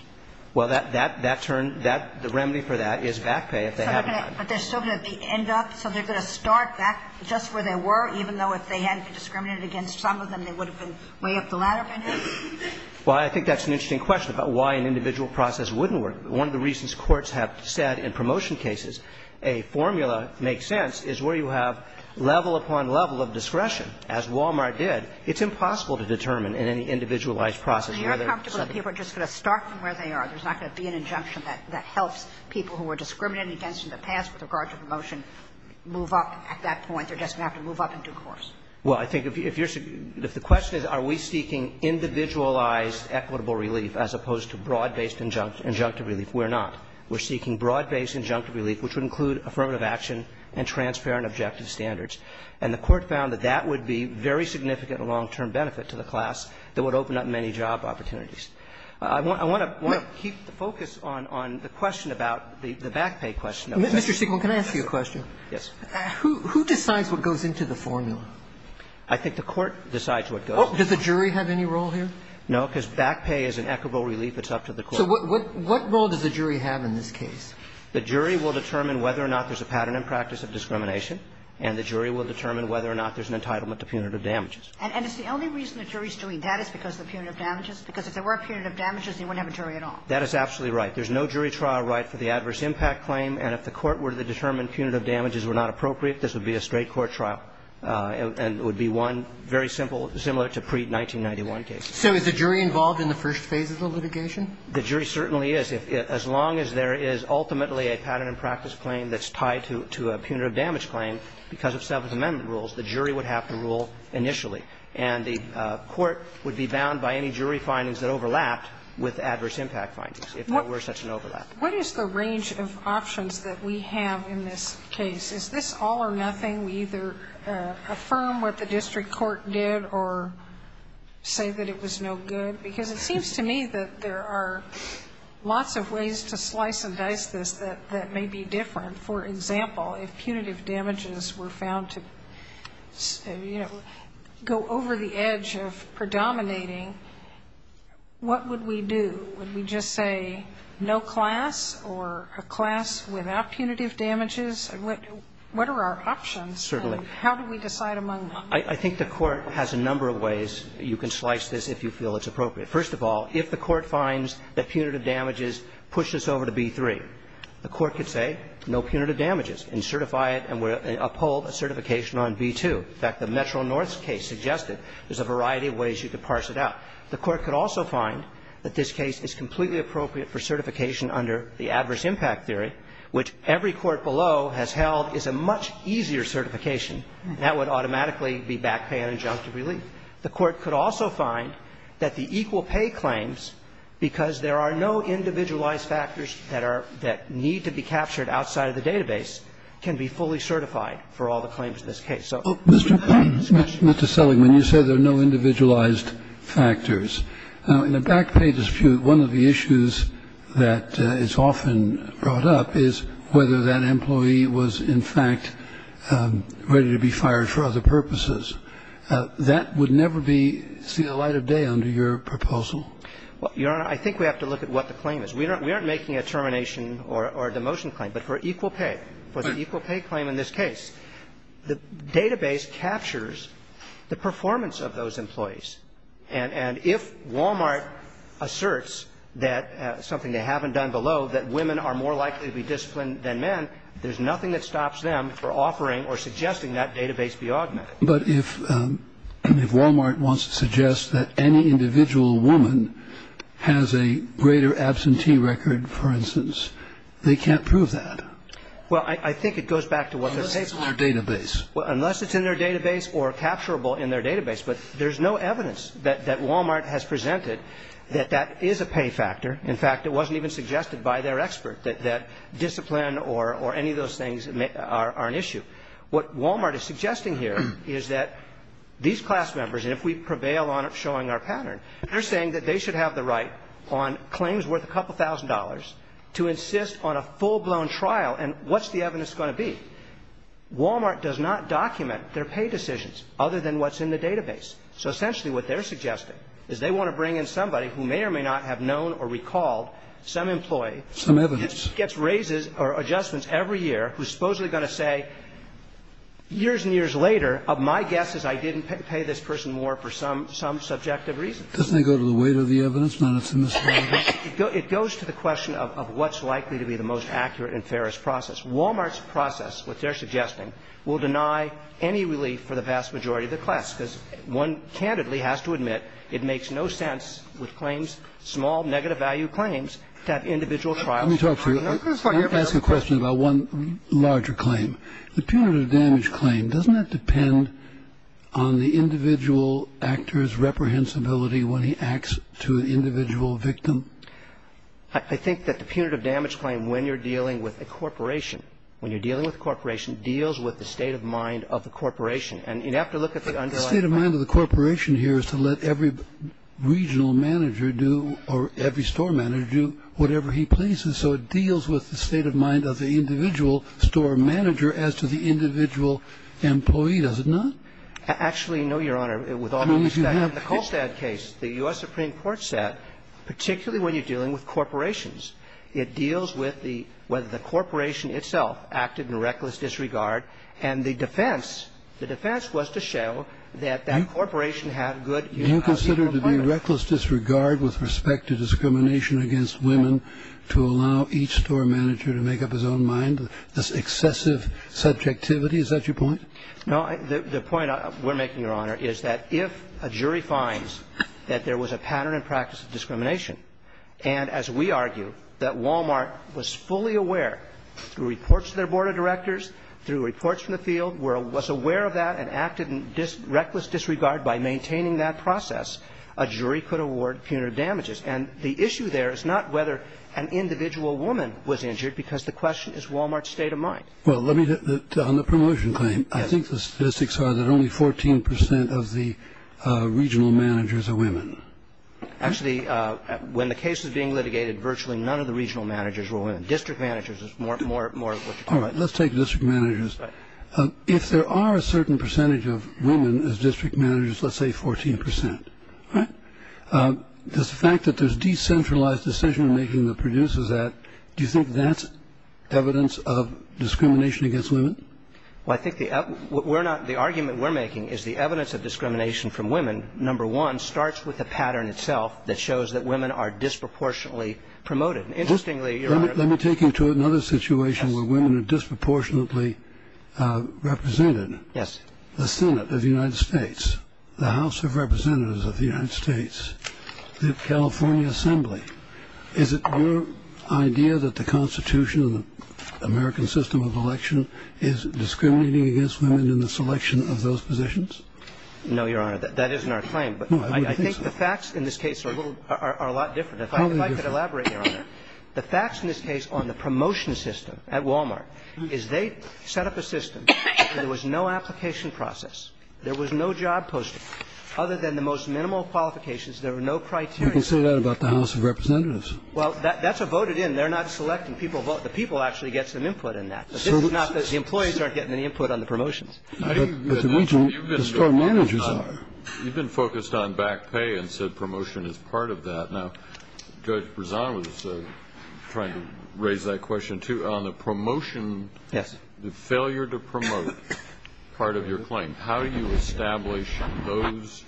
Well, that turn, the remedy for that is back pay if they haven't gotten it. But they're still going to end up, so they're going to start back just where they were, even though if they hadn't been discriminated against, some of them, they would have been way up the ladder, maybe? Well, I think that's an interesting question about why an individual process wouldn't work. One of the reasons courts have said in promotion cases a formula makes sense is where you have level upon level of discretion, as Walmart did. It's impossible to determine in any individualized process whether somebody is just going to start from where they are. There's not going to be an injunction that helps people who were discriminated against in the past with regard to promotion move up at that point. They're just going to have to move up in due course. Well, I think if you're so – if the question is are we seeking individualized equitable relief as opposed to broad-based injunctive relief, we're not. We're seeking broad-based injunctive relief, which would include affirmative action and transparent, objective standards. And the Court found that that would be very significant and long-term benefit to the individualized process. And it's a question of how do we get job opportunities. I want to keep the focus on the question about the back pay question. Mr. Siegel, can I ask you a question? Yes. Who decides what goes into the formula? I think the Court decides what goes into the formula. Oh, does the jury have any role here? No, because back pay is an equitable relief. It's up to the Court. So what role does the jury have in this case? The jury will determine whether or not there's a pattern in practice of discrimination, and the jury will determine whether or not there's an entitlement to punitive damages. And it's the only reason the jury's doing that is because of the punitive damages? Because if there were punitive damages, they wouldn't have a jury at all. That is absolutely right. There's no jury trial right for the adverse impact claim. And if the Court were to determine punitive damages were not appropriate, this would be a straight court trial. And it would be one very simple – similar to pre-1991 cases. So is the jury involved in the first phase of the litigation? The jury certainly is. As long as there is ultimately a pattern in practice claim that's tied to a punitive damage claim, because of Seventh Amendment rules, the jury would have to rule initially. And the Court would be bound by any jury findings that overlapped with adverse impact findings, if there were such an overlap. What is the range of options that we have in this case? Is this all or nothing? We either affirm what the district court did or say that it was no good? Because it seems to me that there are lots of ways to slice and dice this that may be different. For example, if punitive damages were found to, you know, go over the edge of predominating, what would we do? Would we just say no class or a class without punitive damages? What are our options? Certainly. And how do we decide among them? I think the Court has a number of ways you can slice this if you feel it's appropriate. First of all, if the Court finds that punitive damages push us over to B-3, the Court could say no punitive damages and certify it and uphold a certification on B-2. In fact, the Metro North case suggested there's a variety of ways you could parse it out. The Court could also find that this case is completely appropriate for certification under the adverse impact theory, which every court below has held is a much easier certification. And that would automatically be back pay and adjunctive relief. The Court could also find that the equal pay claims, because there are no individualized factors that are need to be captured outside of the database, can be fully certified for all the claims in this case. So it's a very complex question. Kennedy. Mr. Seligman, you said there are no individualized factors. Now, in a back pay dispute, one of the issues that is often brought up is whether that employee was, in fact, ready to be fired for other purposes. That would never be seen in the light of day under your proposal. Well, Your Honor, I think we have to look at what the claim is. We aren't making a termination or a demotion claim, but for equal pay, for the equal pay claim in this case, the database captures the performance of those employees. And if Walmart asserts that, something they haven't done below, that women are more likely to be disciplined than men, there's nothing that stops them from offering or suggesting that database be augmented. But if Walmart wants to suggest that any individual woman has a greater absentee record, for instance, they can't prove that. Well, I think it goes back to what they're saying. Unless it's in their database. Unless it's in their database or capturable in their database. But there's no evidence that Walmart has presented that that is a pay factor. In fact, it wasn't even suggested by their expert that discipline or any of those things are an issue. What Walmart is suggesting here is that these class members, and if we prevail on it showing our pattern, they're saying that they should have the right on claims worth a couple thousand dollars to insist on a full-blown trial, and what's the evidence going to be? Walmart does not document their pay decisions other than what's in the database. So essentially what they're suggesting is they want to bring in somebody who may or may not have known or recalled some employee. Some evidence. Gets raises or adjustments every year who's supposedly going to say, years and years later, my guess is I didn't pay this person more for some subjective reason. Doesn't that go to the weight of the evidence? It goes to the question of what's likely to be the most accurate and fairest process. Walmart's process, what they're suggesting, will deny any relief for the vast majority of the class, because one candidly has to admit it makes no sense with claims, small negative value claims, to have individual trials. Let me talk to you. Let me ask you a question about one larger claim. The punitive damage claim, doesn't that depend on the individual actor's reprehensibility when he acts to an individual victim? I think that the punitive damage claim, when you're dealing with a corporation, when you're dealing with a corporation, deals with the state of mind of the corporation. And you'd have to look at the underlying claim. But the state of mind of the corporation here is to let every regional manager do, or every store manager do, whatever he pleases. So it deals with the state of mind of the individual store manager as to the individual employee, does it not? Actually, no, Your Honor. With all due respect, in the Colstad case, the U.S. Supreme Court said, particularly when you're dealing with corporations, it deals with the – whether the corporation itself acted in reckless disregard. And the defense – the defense was to show that that corporation had good – Do you consider it to be reckless disregard with respect to discrimination against women to allow each store manager to make up his own mind? That's excessive subjectivity? Is that your point? No. The point we're making, Your Honor, is that if a jury finds that there was a pattern and practice of discrimination, and as we argue, that Walmart was fully aware through reports to their board of directors, through reports from the field, was aware of that and acted in reckless disregard by maintaining that process, a jury could award punitive damages. And the issue there is not whether an individual woman was injured, because the question is Walmart's state of mind. Well, let me – on the promotion claim, I think the statistics are that only 14 percent of the regional managers are women. Actually, when the case was being litigated, virtually none of the regional managers were women. District managers is more of what you're talking about. All right. Let's take district managers. If there are a certain percentage of women as district managers, let's say 14 percent, does the fact that there's decentralized decision-making that produces that, do you think that's evidence of discrimination against women? Well, I think the – we're not – the argument we're making is the evidence of discrimination from women, number one, starts with the pattern itself that shows that women are disproportionately promoted. Interestingly, Your Honor – Let me take you to another situation where women are disproportionately represented. Yes. The Senate of the United States, the House of Representatives of the United States, the California Assembly. Is it your idea that the Constitution of the American system of election is discriminating against women in the selection of those positions? No, Your Honor. That isn't our claim. No, I would think so. But I think the facts in this case are a little – are a lot different. Probably different. If I could elaborate, Your Honor, the facts in this case on the promotion system at Walmart is they set up a system where there was no application process. There was no job posting. Other than the most minimal qualifications, there were no criteria. People say that about the House of Representatives. Well, that's a voted in. They're not selecting people. The people actually get some input in that. But this is not – the employees aren't getting any input on the promotions. But the store managers are. You've been focused on back pay and said promotion is part of that. Now, Judge Brezan was trying to raise that question, too. On the promotion – Yes. The failure to promote part of your claim, how do you establish those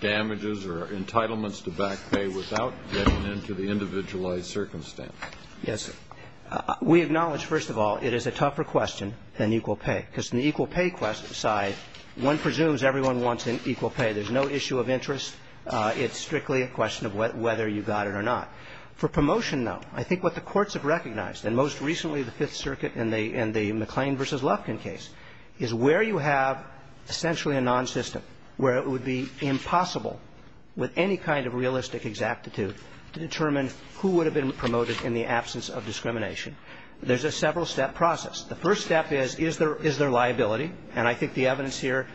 damages or entitlements to back pay without getting into the individualized circumstance? Yes. We acknowledge, first of all, it is a tougher question than equal pay, because in the equal pay side, one presumes everyone wants an equal pay. There's no issue of interest. It's strictly a question of whether you got it or not. For promotion, though, I think what the courts have recognized, and most recently the Fifth Circuit in the McLean v. Lufkin case, is where you have essentially a non-system where it would be impossible with any kind of realistic exactitude to determine who would have been promoted in the absence of discrimination. There's a several-step process. The first step is, is there liability? And I think the evidence here,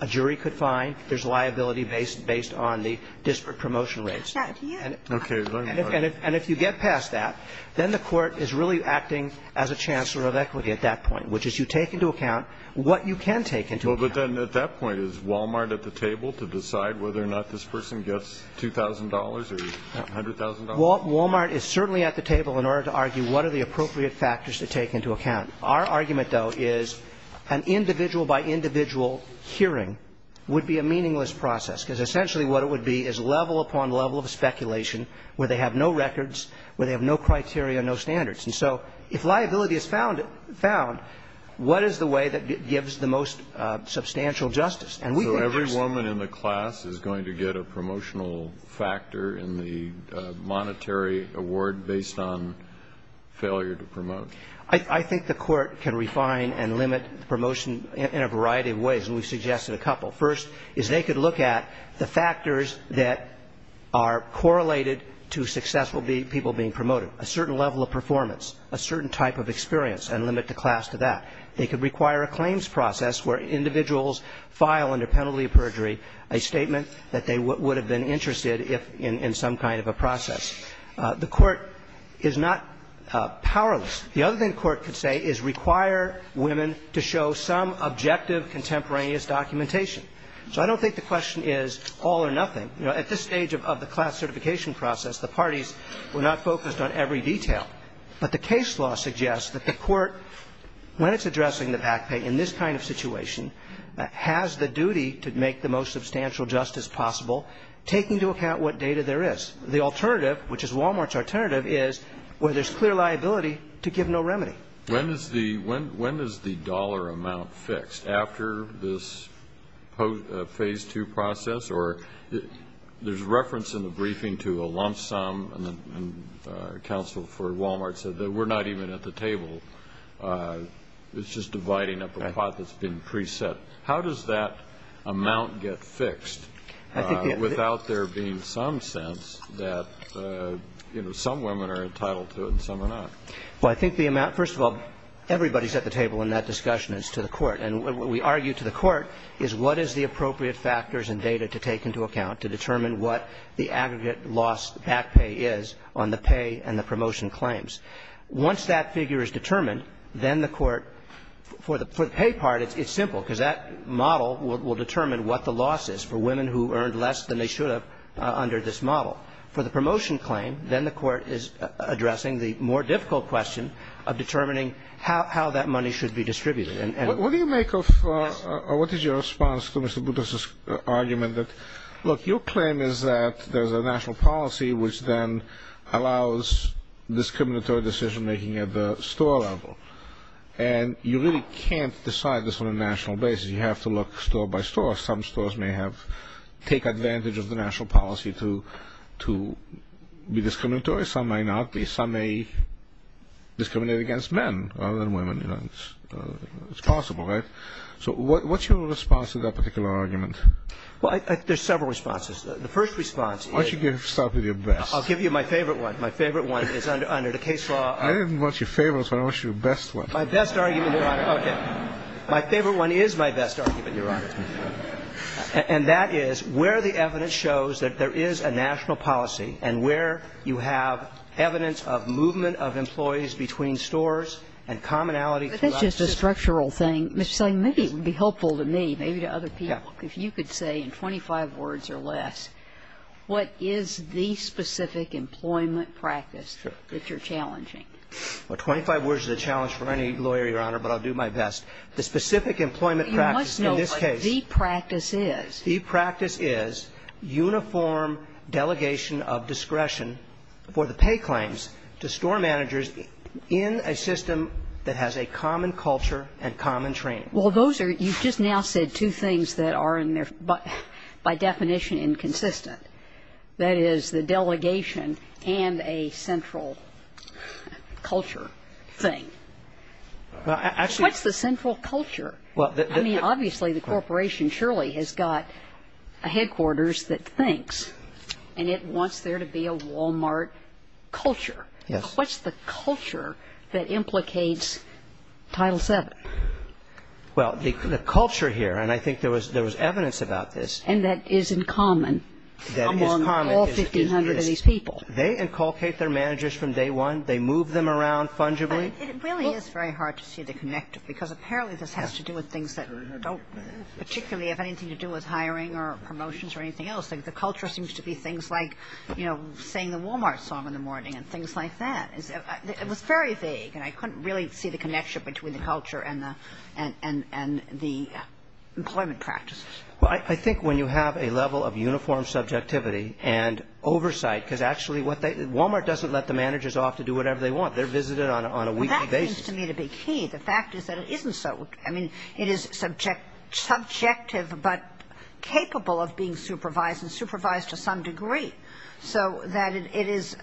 a jury could find there's liability based on the disparate promotion rates. Okay. And if you get past that, then the court is really acting as a chancellor of equity at that point, which is you take into account what you can take into account. Well, but then at that point, is Walmart at the table to decide whether or not this person gets $2,000 or $100,000? Walmart is certainly at the table in order to argue what are the appropriate factors to take into account. Our argument, though, is an individual-by-individual hearing would be a meaningless process, because essentially what it would be is level upon level of speculation where they have no records, where they have no criteria, no standards. And so if liability is found, what is the way that gives the most substantial justice? And we think that's the way. So every woman in the class is going to get a promotional factor in the monetary award based on failure to promote? I think the Court can refine and limit promotion in a variety of ways, and we've suggested a couple. First is they could look at the factors that are correlated to successful people being promoted, a certain level of performance, a certain type of experience, and limit the class to that. They could require a claims process where individuals file under penalty of perjury a statement that they would have been interested in some kind of a process. The Court is not powerless. The other thing the Court could say is require women to show some objective contemporaneous documentation. So I don't think the question is all or nothing. At this stage of the class certification process, the parties were not focused on every detail. But the case law suggests that the Court, when it's addressing the back pay in this kind of situation, has the duty to make the most substantial justice possible, taking into account what data there is. The alternative, which is Walmart's alternative, is where there's clear liability to give no remedy. When is the dollar amount fixed after this Phase 2 process? Or there's reference in the briefing to a lump sum, and counsel for Walmart said that we're not even at the table. It's just dividing up a pot that's been preset. How does that amount get fixed without there being some sense that, you know, some women are entitled to it and some are not? Well, I think the amount, first of all, everybody's at the table in that discussion as to the Court. And what we argue to the Court is what is the appropriate factors and data to take into account to determine what the aggregate loss back pay is on the pay and the promotion claims. Once that figure is determined, then the Court, for the pay part, it's simple, because that model will determine what the loss is for women who earned less than they should have under this model. For the promotion claim, then the Court is addressing the more difficult question of determining how that money should be distributed. What do you make of or what is your response to Mr. Buttock's argument that, look, your claim is that there's a national policy which then allows discriminatory decision-making at the store level. And you really can't decide this on a national basis. You have to look store by store. Some stores may take advantage of the national policy to be discriminatory. Some may not be. Some may discriminate against men rather than women. It's possible, right? So what's your response to that particular argument? Well, there's several responses. The first response is ---- Why don't you start with your best? I'll give you my favorite one. My favorite one is under the case law ---- I didn't want your favorite one. I want your best one. My best argument, Your Honor. Okay. My favorite one is my best argument, Your Honor. And that is where the evidence shows that there is a national policy and where you have evidence of movement of employees between stores and commonality throughout the system. But that's just a structural thing. Maybe it would be helpful to me, maybe to other people, if you could say in 25 words or less what is the specific employment practice that you're challenging. Well, 25 words is a challenge for any lawyer, Your Honor, but I'll do my best. The specific employment practice in this case ---- The practice is? The practice is uniform delegation of discretion for the pay claims to store managers in a system that has a common culture and common training. Well, those are ---- you've just now said two things that are in their ---- by definition inconsistent. That is, the delegation and a central culture thing. Well, actually ---- What's the central culture? I mean, obviously the corporation surely has got a headquarters that thinks and it wants there to be a Walmart culture. Yes. What's the culture that implicates Title VII? Well, the culture here, and I think there was evidence about this ---- And that is in common among all 1,500 of these people. They inculcate their managers from day one. They move them around fungibly. It really is very hard to see the connective because apparently this has to do with things that don't particularly have anything to do with hiring or promotions or anything else. The culture seems to be things like, you know, saying the Walmart song in the morning and things like that. It was very vague and I couldn't really see the connection between the culture and the employment practices. Well, I think when you have a level of uniform subjectivity and oversight, because actually what they ---- Walmart doesn't let the managers off to do whatever they want. They're visited on a weekly basis. Well, that seems to me to be key. The fact is that it isn't so. I mean, it is subjective but capable of being supervised and supervised to some degree so that it is,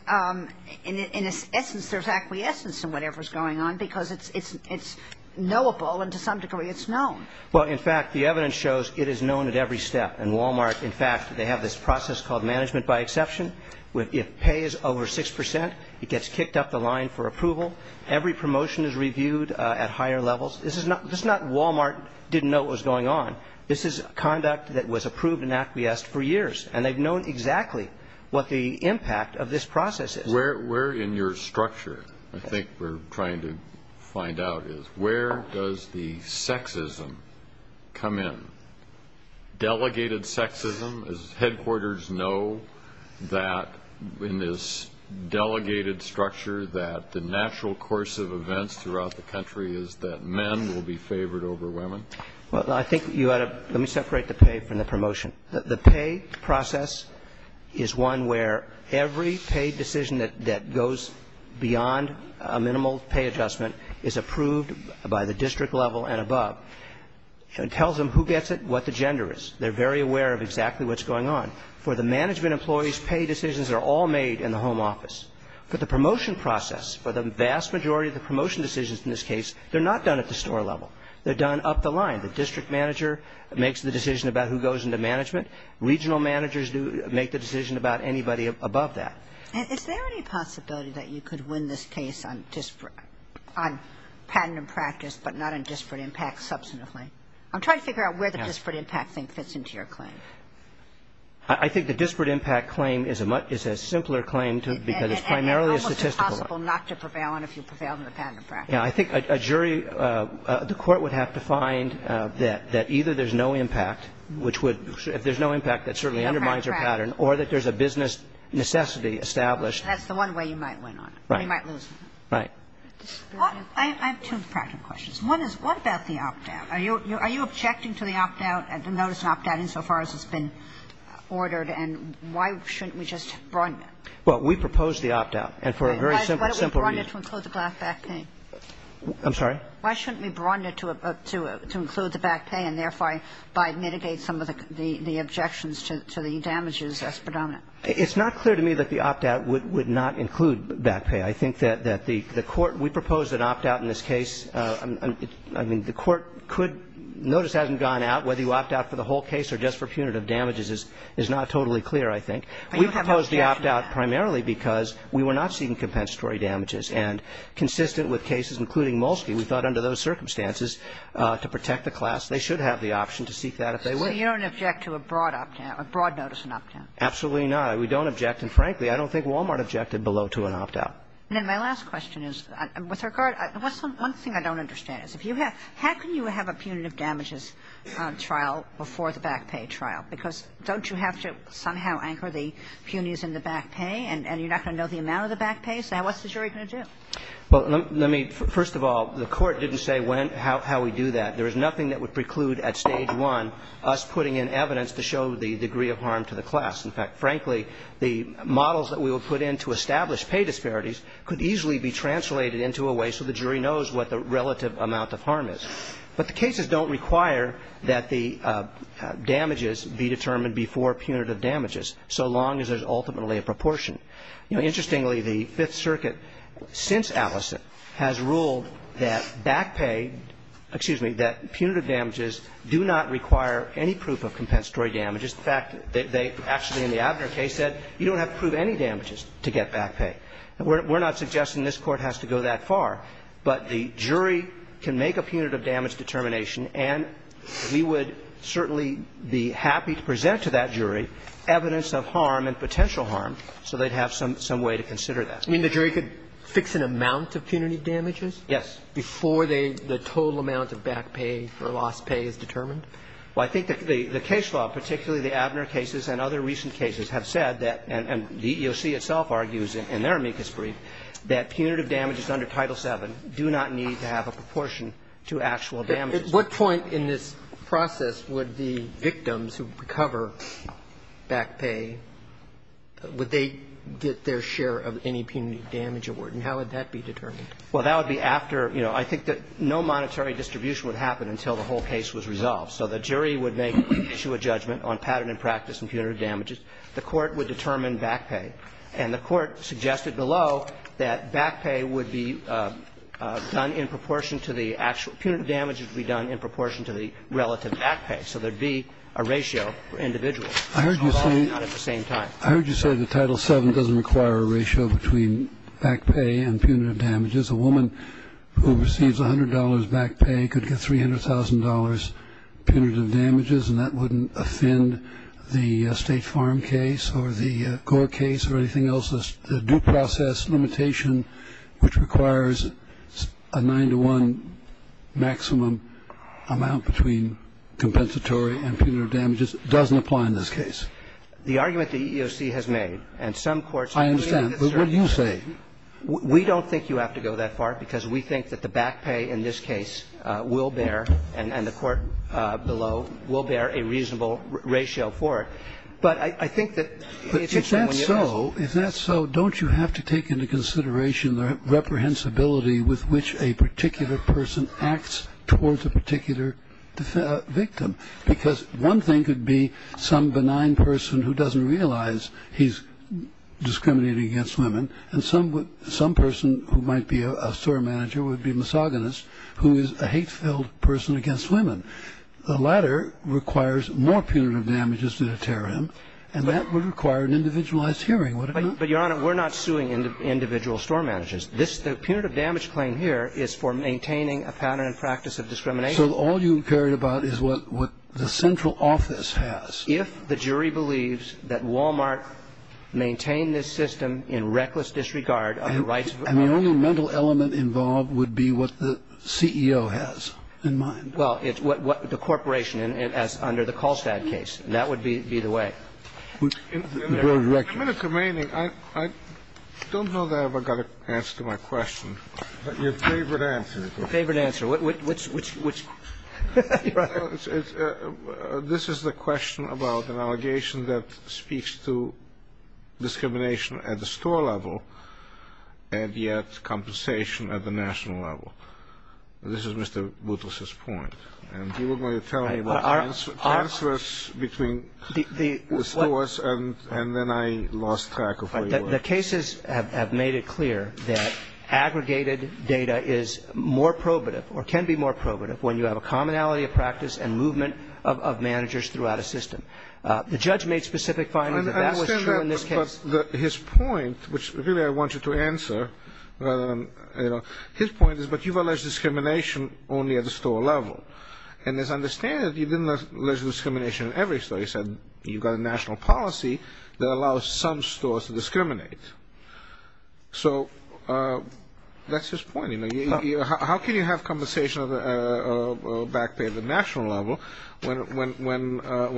in its essence, there's acquiescence in whatever's going on because it's knowable and to some degree it's known. Well, in fact, the evidence shows it is known at every step. And Walmart, in fact, they have this process called management by exception. If pay is over 6%, it gets kicked up the line for approval. Every promotion is reviewed at higher levels. This is not Walmart didn't know what was going on. This is conduct that was approved and acquiesced for years, and they've known exactly what the impact of this process is. Where in your structure I think we're trying to find out is where does the sexism come in? Delegated sexism, as headquarters know, that in this delegated structure that the natural course of events throughout the country is that men will be favored over women. Well, I think you ought to separate the pay from the promotion. The pay process is one where every pay decision that goes beyond a minimal pay adjustment is approved by the district level and above. It tells them who gets it, what the gender is. They're very aware of exactly what's going on. For the management employees, pay decisions are all made in the home office. For the promotion process, for the vast majority of the promotion decisions in this case, they're not done at the store level. They're done up the line. The district manager makes the decision about who goes into management. Regional managers make the decision about anybody above that. And is there any possibility that you could win this case on patent and practice, but not on disparate impact substantively? I'm trying to figure out where the disparate impact thing fits into your claim. I think the disparate impact claim is a simpler claim because it's primarily a statistical. And almost impossible not to prevail on if you prevail on the patent and practice. Yeah. I think a jury, the Court would have to find that either there's no impact, which would if there's no impact, that certainly undermines your pattern, or that there's a business necessity established. That's the one way you might win on it. Right. Or you might lose on it. Right. I have two practical questions. One is, what about the opt-out? Are you objecting to the opt-out, the notice of opt-out, insofar as it's been ordered? And why shouldn't we just broaden it? Well, we proposed the opt-out. And for a very simple reason. Why don't we broaden it to include the back pay? I'm sorry? Why shouldn't we broaden it to include the back pay and, therefore, by mitigating some of the objections to the damages as predominant? It's not clear to me that the opt-out would not include back pay. I think that the Court we proposed an opt-out in this case. I mean, the Court could notice hasn't gone out whether you opt-out for the whole case or just for punitive damages is not totally clear, I think. We proposed the opt-out primarily because we were not seeing compensatory damages. And consistent with cases including Molsky, we thought under those circumstances to protect the class, they should have the option to seek that if they would. So you don't object to a broad opt-out, a broad notice and opt-out? Absolutely not. We don't object. And, frankly, I don't think Walmart objected below to an opt-out. And then my last question is with regard to one thing I don't understand is if you have how can you have a punitive damages trial before the back pay trial? Because don't you have to somehow anchor the punies in the back pay and you're not going to know the amount of the back pay? So what's the jury going to do? Well, let me, first of all, the Court didn't say when, how we do that. There is nothing that would preclude at stage one us putting in evidence to show the degree of harm to the class. In fact, frankly, the models that we would put in to establish pay disparities could easily be translated into a way so the jury knows what the relative amount of harm is. But the cases don't require that the damages be determined before punitive damages, so long as there's ultimately a proportion. You know, interestingly, the Fifth Circuit, since Allison, has ruled that back pay, excuse me, that punitive damages do not require any proof of compensatory damages. In fact, they actually in the Abner case said you don't have to prove any damages to get back pay. We're not suggesting this Court has to go that far, but the jury can make a punitive damage determination and we would certainly be happy to present to that jury evidence of harm and potential harm so they'd have some way to consider that. I mean, the jury could fix an amount of punitive damages? Yes. Before the total amount of back pay or lost pay is determined? Well, I think the case law, particularly the Abner cases and other recent cases, have said that, and the EEOC itself argues in their amicus brief, that punitive damages under Title VII do not need to have a proportion to actual damages. At what point in this process would the victims who recover back pay, would they get their share of any punitive damage award, and how would that be determined? Well, that would be after, you know, I think that no monetary distribution would happen until the whole case was resolved. So the jury would issue a judgment on pattern and practice and punitive damages. The Court would determine back pay. And the Court suggested below that back pay would be done in proportion to the actual – punitive damage would be done in proportion to the relative back pay. So there would be a ratio for individuals. I heard you say the Title VII doesn't require a ratio between back pay and punitive damages. A woman who receives $100 back pay could get $300,000 punitive damages, and that wouldn't offend the State Farm case or the Gore case or anything else. The due process limitation, which requires a 9-to-1 maximum amount between compensatory and punitive damages, doesn't apply in this case. The argument the EEOC has made, and some courts agree with this argument. I understand. But what do you say? We don't think you have to go that far, because we think that the back pay in this case will bear, and the Court below will bear, a reasonable ratio for it. But I think that it's important when you ask. But if that's so, if that's so, don't you have to take into consideration the reprehensibility with which a particular person acts towards a particular victim? Because one thing could be some benign person who doesn't realize he's discriminating against women, and some person who might be a store manager would be a misogynist who is a hate-filled person against women. The latter requires more punitive damages than a terrorist, and that would require an individualized hearing, would it not? But, Your Honor, we're not suing individual store managers. The punitive damage claim here is for maintaining a pattern and practice of discrimination. So all you care about is what the central office has. If the jury believes that Wal-Mart maintained this system in reckless disregard of the rights of its employees. And the only mental element involved would be what the CEO has in mind. Well, it's what the corporation has under the Kolstad case. And that would be the way. In the minute remaining, I don't know that I've ever got an answer to my question, but your favorite answer. Your favorite answer. Which one? This is the question about an allegation that speaks to discrimination at the store level and yet compensation at the national level. This is Mr. Boutros' point. And you were going to tell me about transfers between the stores and then I lost track of where you were. The cases have made it clear that aggregated data is more probative or can be more of managers throughout a system. The judge made specific findings that that was true in this case. But his point, which really I want you to answer, his point is, but you've alleged discrimination only at the store level. And it's understandable that you didn't allege discrimination at every store. You said you've got a national policy that allows some stores to discriminate. So that's his point. How can you have compensation or back pay at the national level when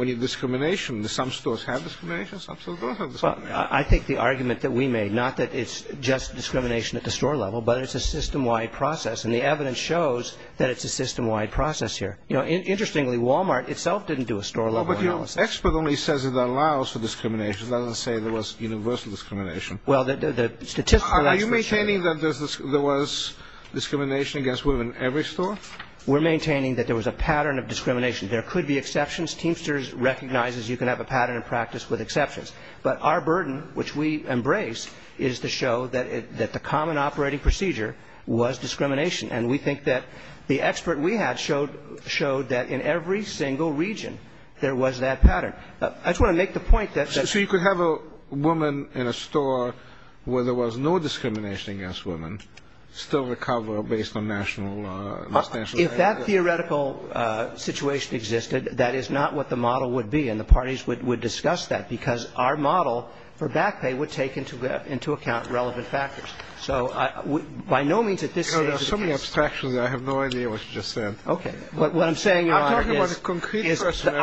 you have discrimination? Do some stores have discrimination? Some stores don't have discrimination. I think the argument that we made, not that it's just discrimination at the store level, but it's a system-wide process. And the evidence shows that it's a system-wide process here. Interestingly, Walmart itself didn't do a store-level analysis. But your expert only says it allows for discrimination. It doesn't say there was universal discrimination. Are you maintaining that there was discrimination against women at every store? We're maintaining that there was a pattern of discrimination. There could be exceptions. Teamsters recognizes you can have a pattern of practice with exceptions. But our burden, which we embrace, is to show that the common operating procedure was discrimination. And we think that the expert we had showed that in every single region there was that pattern. So you could have a woman in a store where there was no discrimination against women still recover based on national standards? If that theoretical situation existed, that is not what the model would be. And the parties would discuss that because our model for back pay would take into account relevant factors. So by no means at this stage. There are so many abstractions, I have no idea what you just said. Okay. What I'm saying is. I'm talking about a concrete question.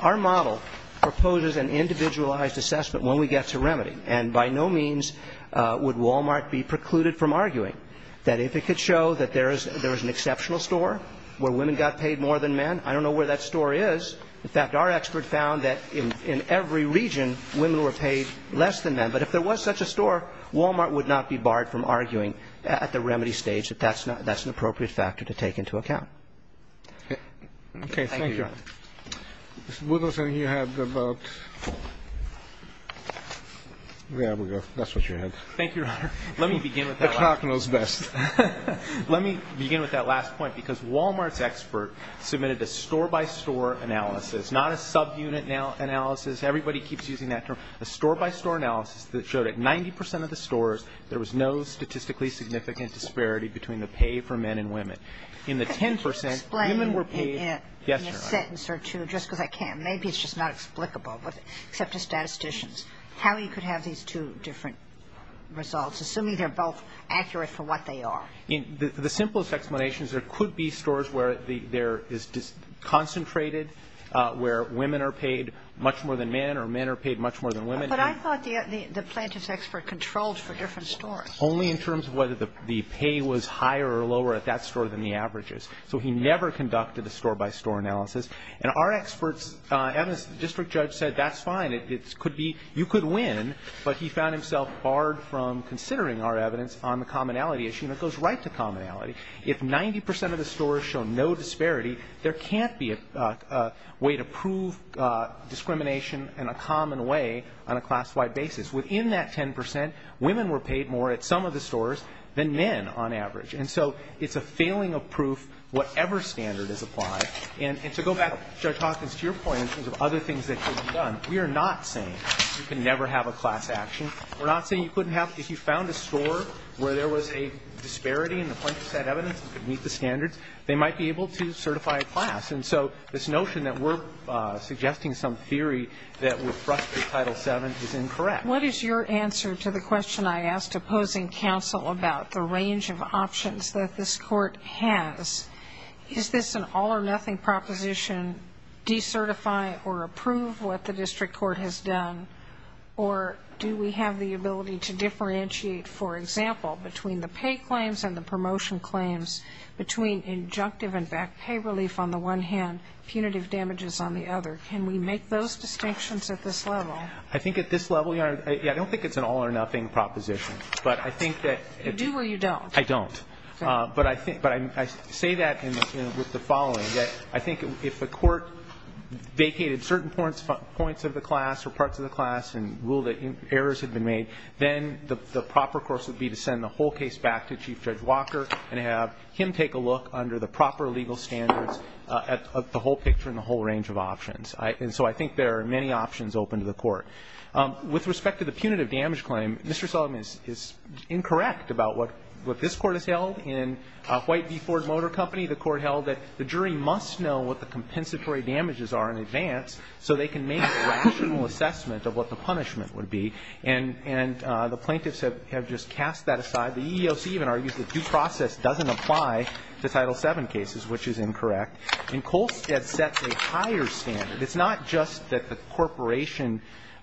Our model proposes an individualized assessment when we get to remedy. And by no means would Walmart be precluded from arguing that if it could show that there is an exceptional store where women got paid more than men. I don't know where that store is. In fact, our expert found that in every region women were paid less than men. But if there was such a store, Walmart would not be barred from arguing at the remedy stage that that's an appropriate factor to take into account. Okay. Thank you. Ms. Woodlison, you had about. There we go. That's what you had. Thank you, Your Honor. Let me begin with that. The clock knows best. Let me begin with that last point. Because Walmart's expert submitted a store-by-store analysis, not a subunit analysis. Everybody keeps using that term. A store-by-store analysis that showed at 90 percent of the stores, there was no statistically significant disparity between the pay for men and women. In the 10 percent, women were paid. Explain in a sentence or two, just because I can't. Maybe it's just not explicable, except to statisticians, how you could have these two different results, assuming they're both accurate for what they are. The simplest explanation is there could be stores where there is concentrated, where women are paid much more than men or men are paid much more than women. But I thought the plaintiff's expert controlled for different stores. Only in terms of whether the pay was higher or lower at that store than the averages. So he never conducted a store-by-store analysis. And our experts, as the district judge said, that's fine. You could win. But he found himself barred from considering our evidence on the commonality issue. And it goes right to commonality. If 90 percent of the stores show no disparity, there can't be a way to prove discrimination in a common way on a class-wide basis. Within that 10 percent, women were paid more at some of the stores than men on average. And so it's a failing of proof, whatever standard is applied. And to go back, Judge Hawkins, to your point in terms of other things that could be done, we are not saying you can never have a class action. We're not saying you couldn't have – if you found a store where there was a disparity in the plaintiff's said evidence and could meet the standards, they might be able to certify a class. And so this notion that we're suggesting some theory that would frustrate Title VII is incorrect. What is your answer to the question I asked opposing counsel about the range of options that this Court has? Is this an all-or-nothing proposition, decertify or approve what the district court has done, or do we have the ability to differentiate, for example, between the pay claims and the promotion claims, between injunctive and back pay relief on the one hand, punitive damages on the other? Can we make those distinctions at this level? I think at this level, Your Honor, I don't think it's an all-or-nothing proposition. But I think that – You do or you don't? I don't. But I think – but I say that with the following, that I think if the Court vacated certain points of the class or parts of the class and ruled that errors had been made, then the proper course would be to send the whole case back to Chief Judge Walker and have him take a look under the proper legal standards at the whole picture and the whole range of options. And so I think there are many options open to the Court. With respect to the punitive damage claim, Mr. Sullivan is incorrect about what this Court has held. In White v. Ford Motor Company, the Court held that the jury must know what the compensatory And the plaintiffs have just cast that aside. The EEOC even argues that due process doesn't apply to Title VII cases, which is incorrect. And Kolstad sets a higher standard. It's not just that the corporation –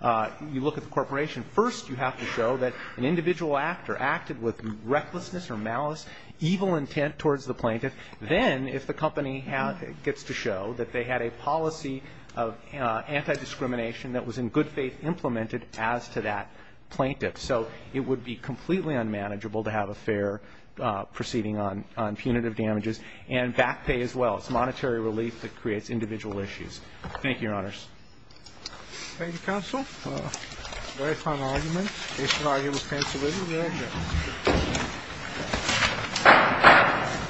you look at the corporation. First, you have to show that an individual act or acted with recklessness or malice, evil intent towards the plaintiff. Then, if the company gets to show that they had a policy of antidiscrimination that was in good faith implemented as to that plaintiff. So it would be completely unmanageable to have a fair proceeding on punitive damages. And back pay as well. It's monetary relief that creates individual issues. Thank you, Your Honors. Thank you, counsel. A very fine argument. Case and argument is canceled, is it? We are adjourned. Thank you.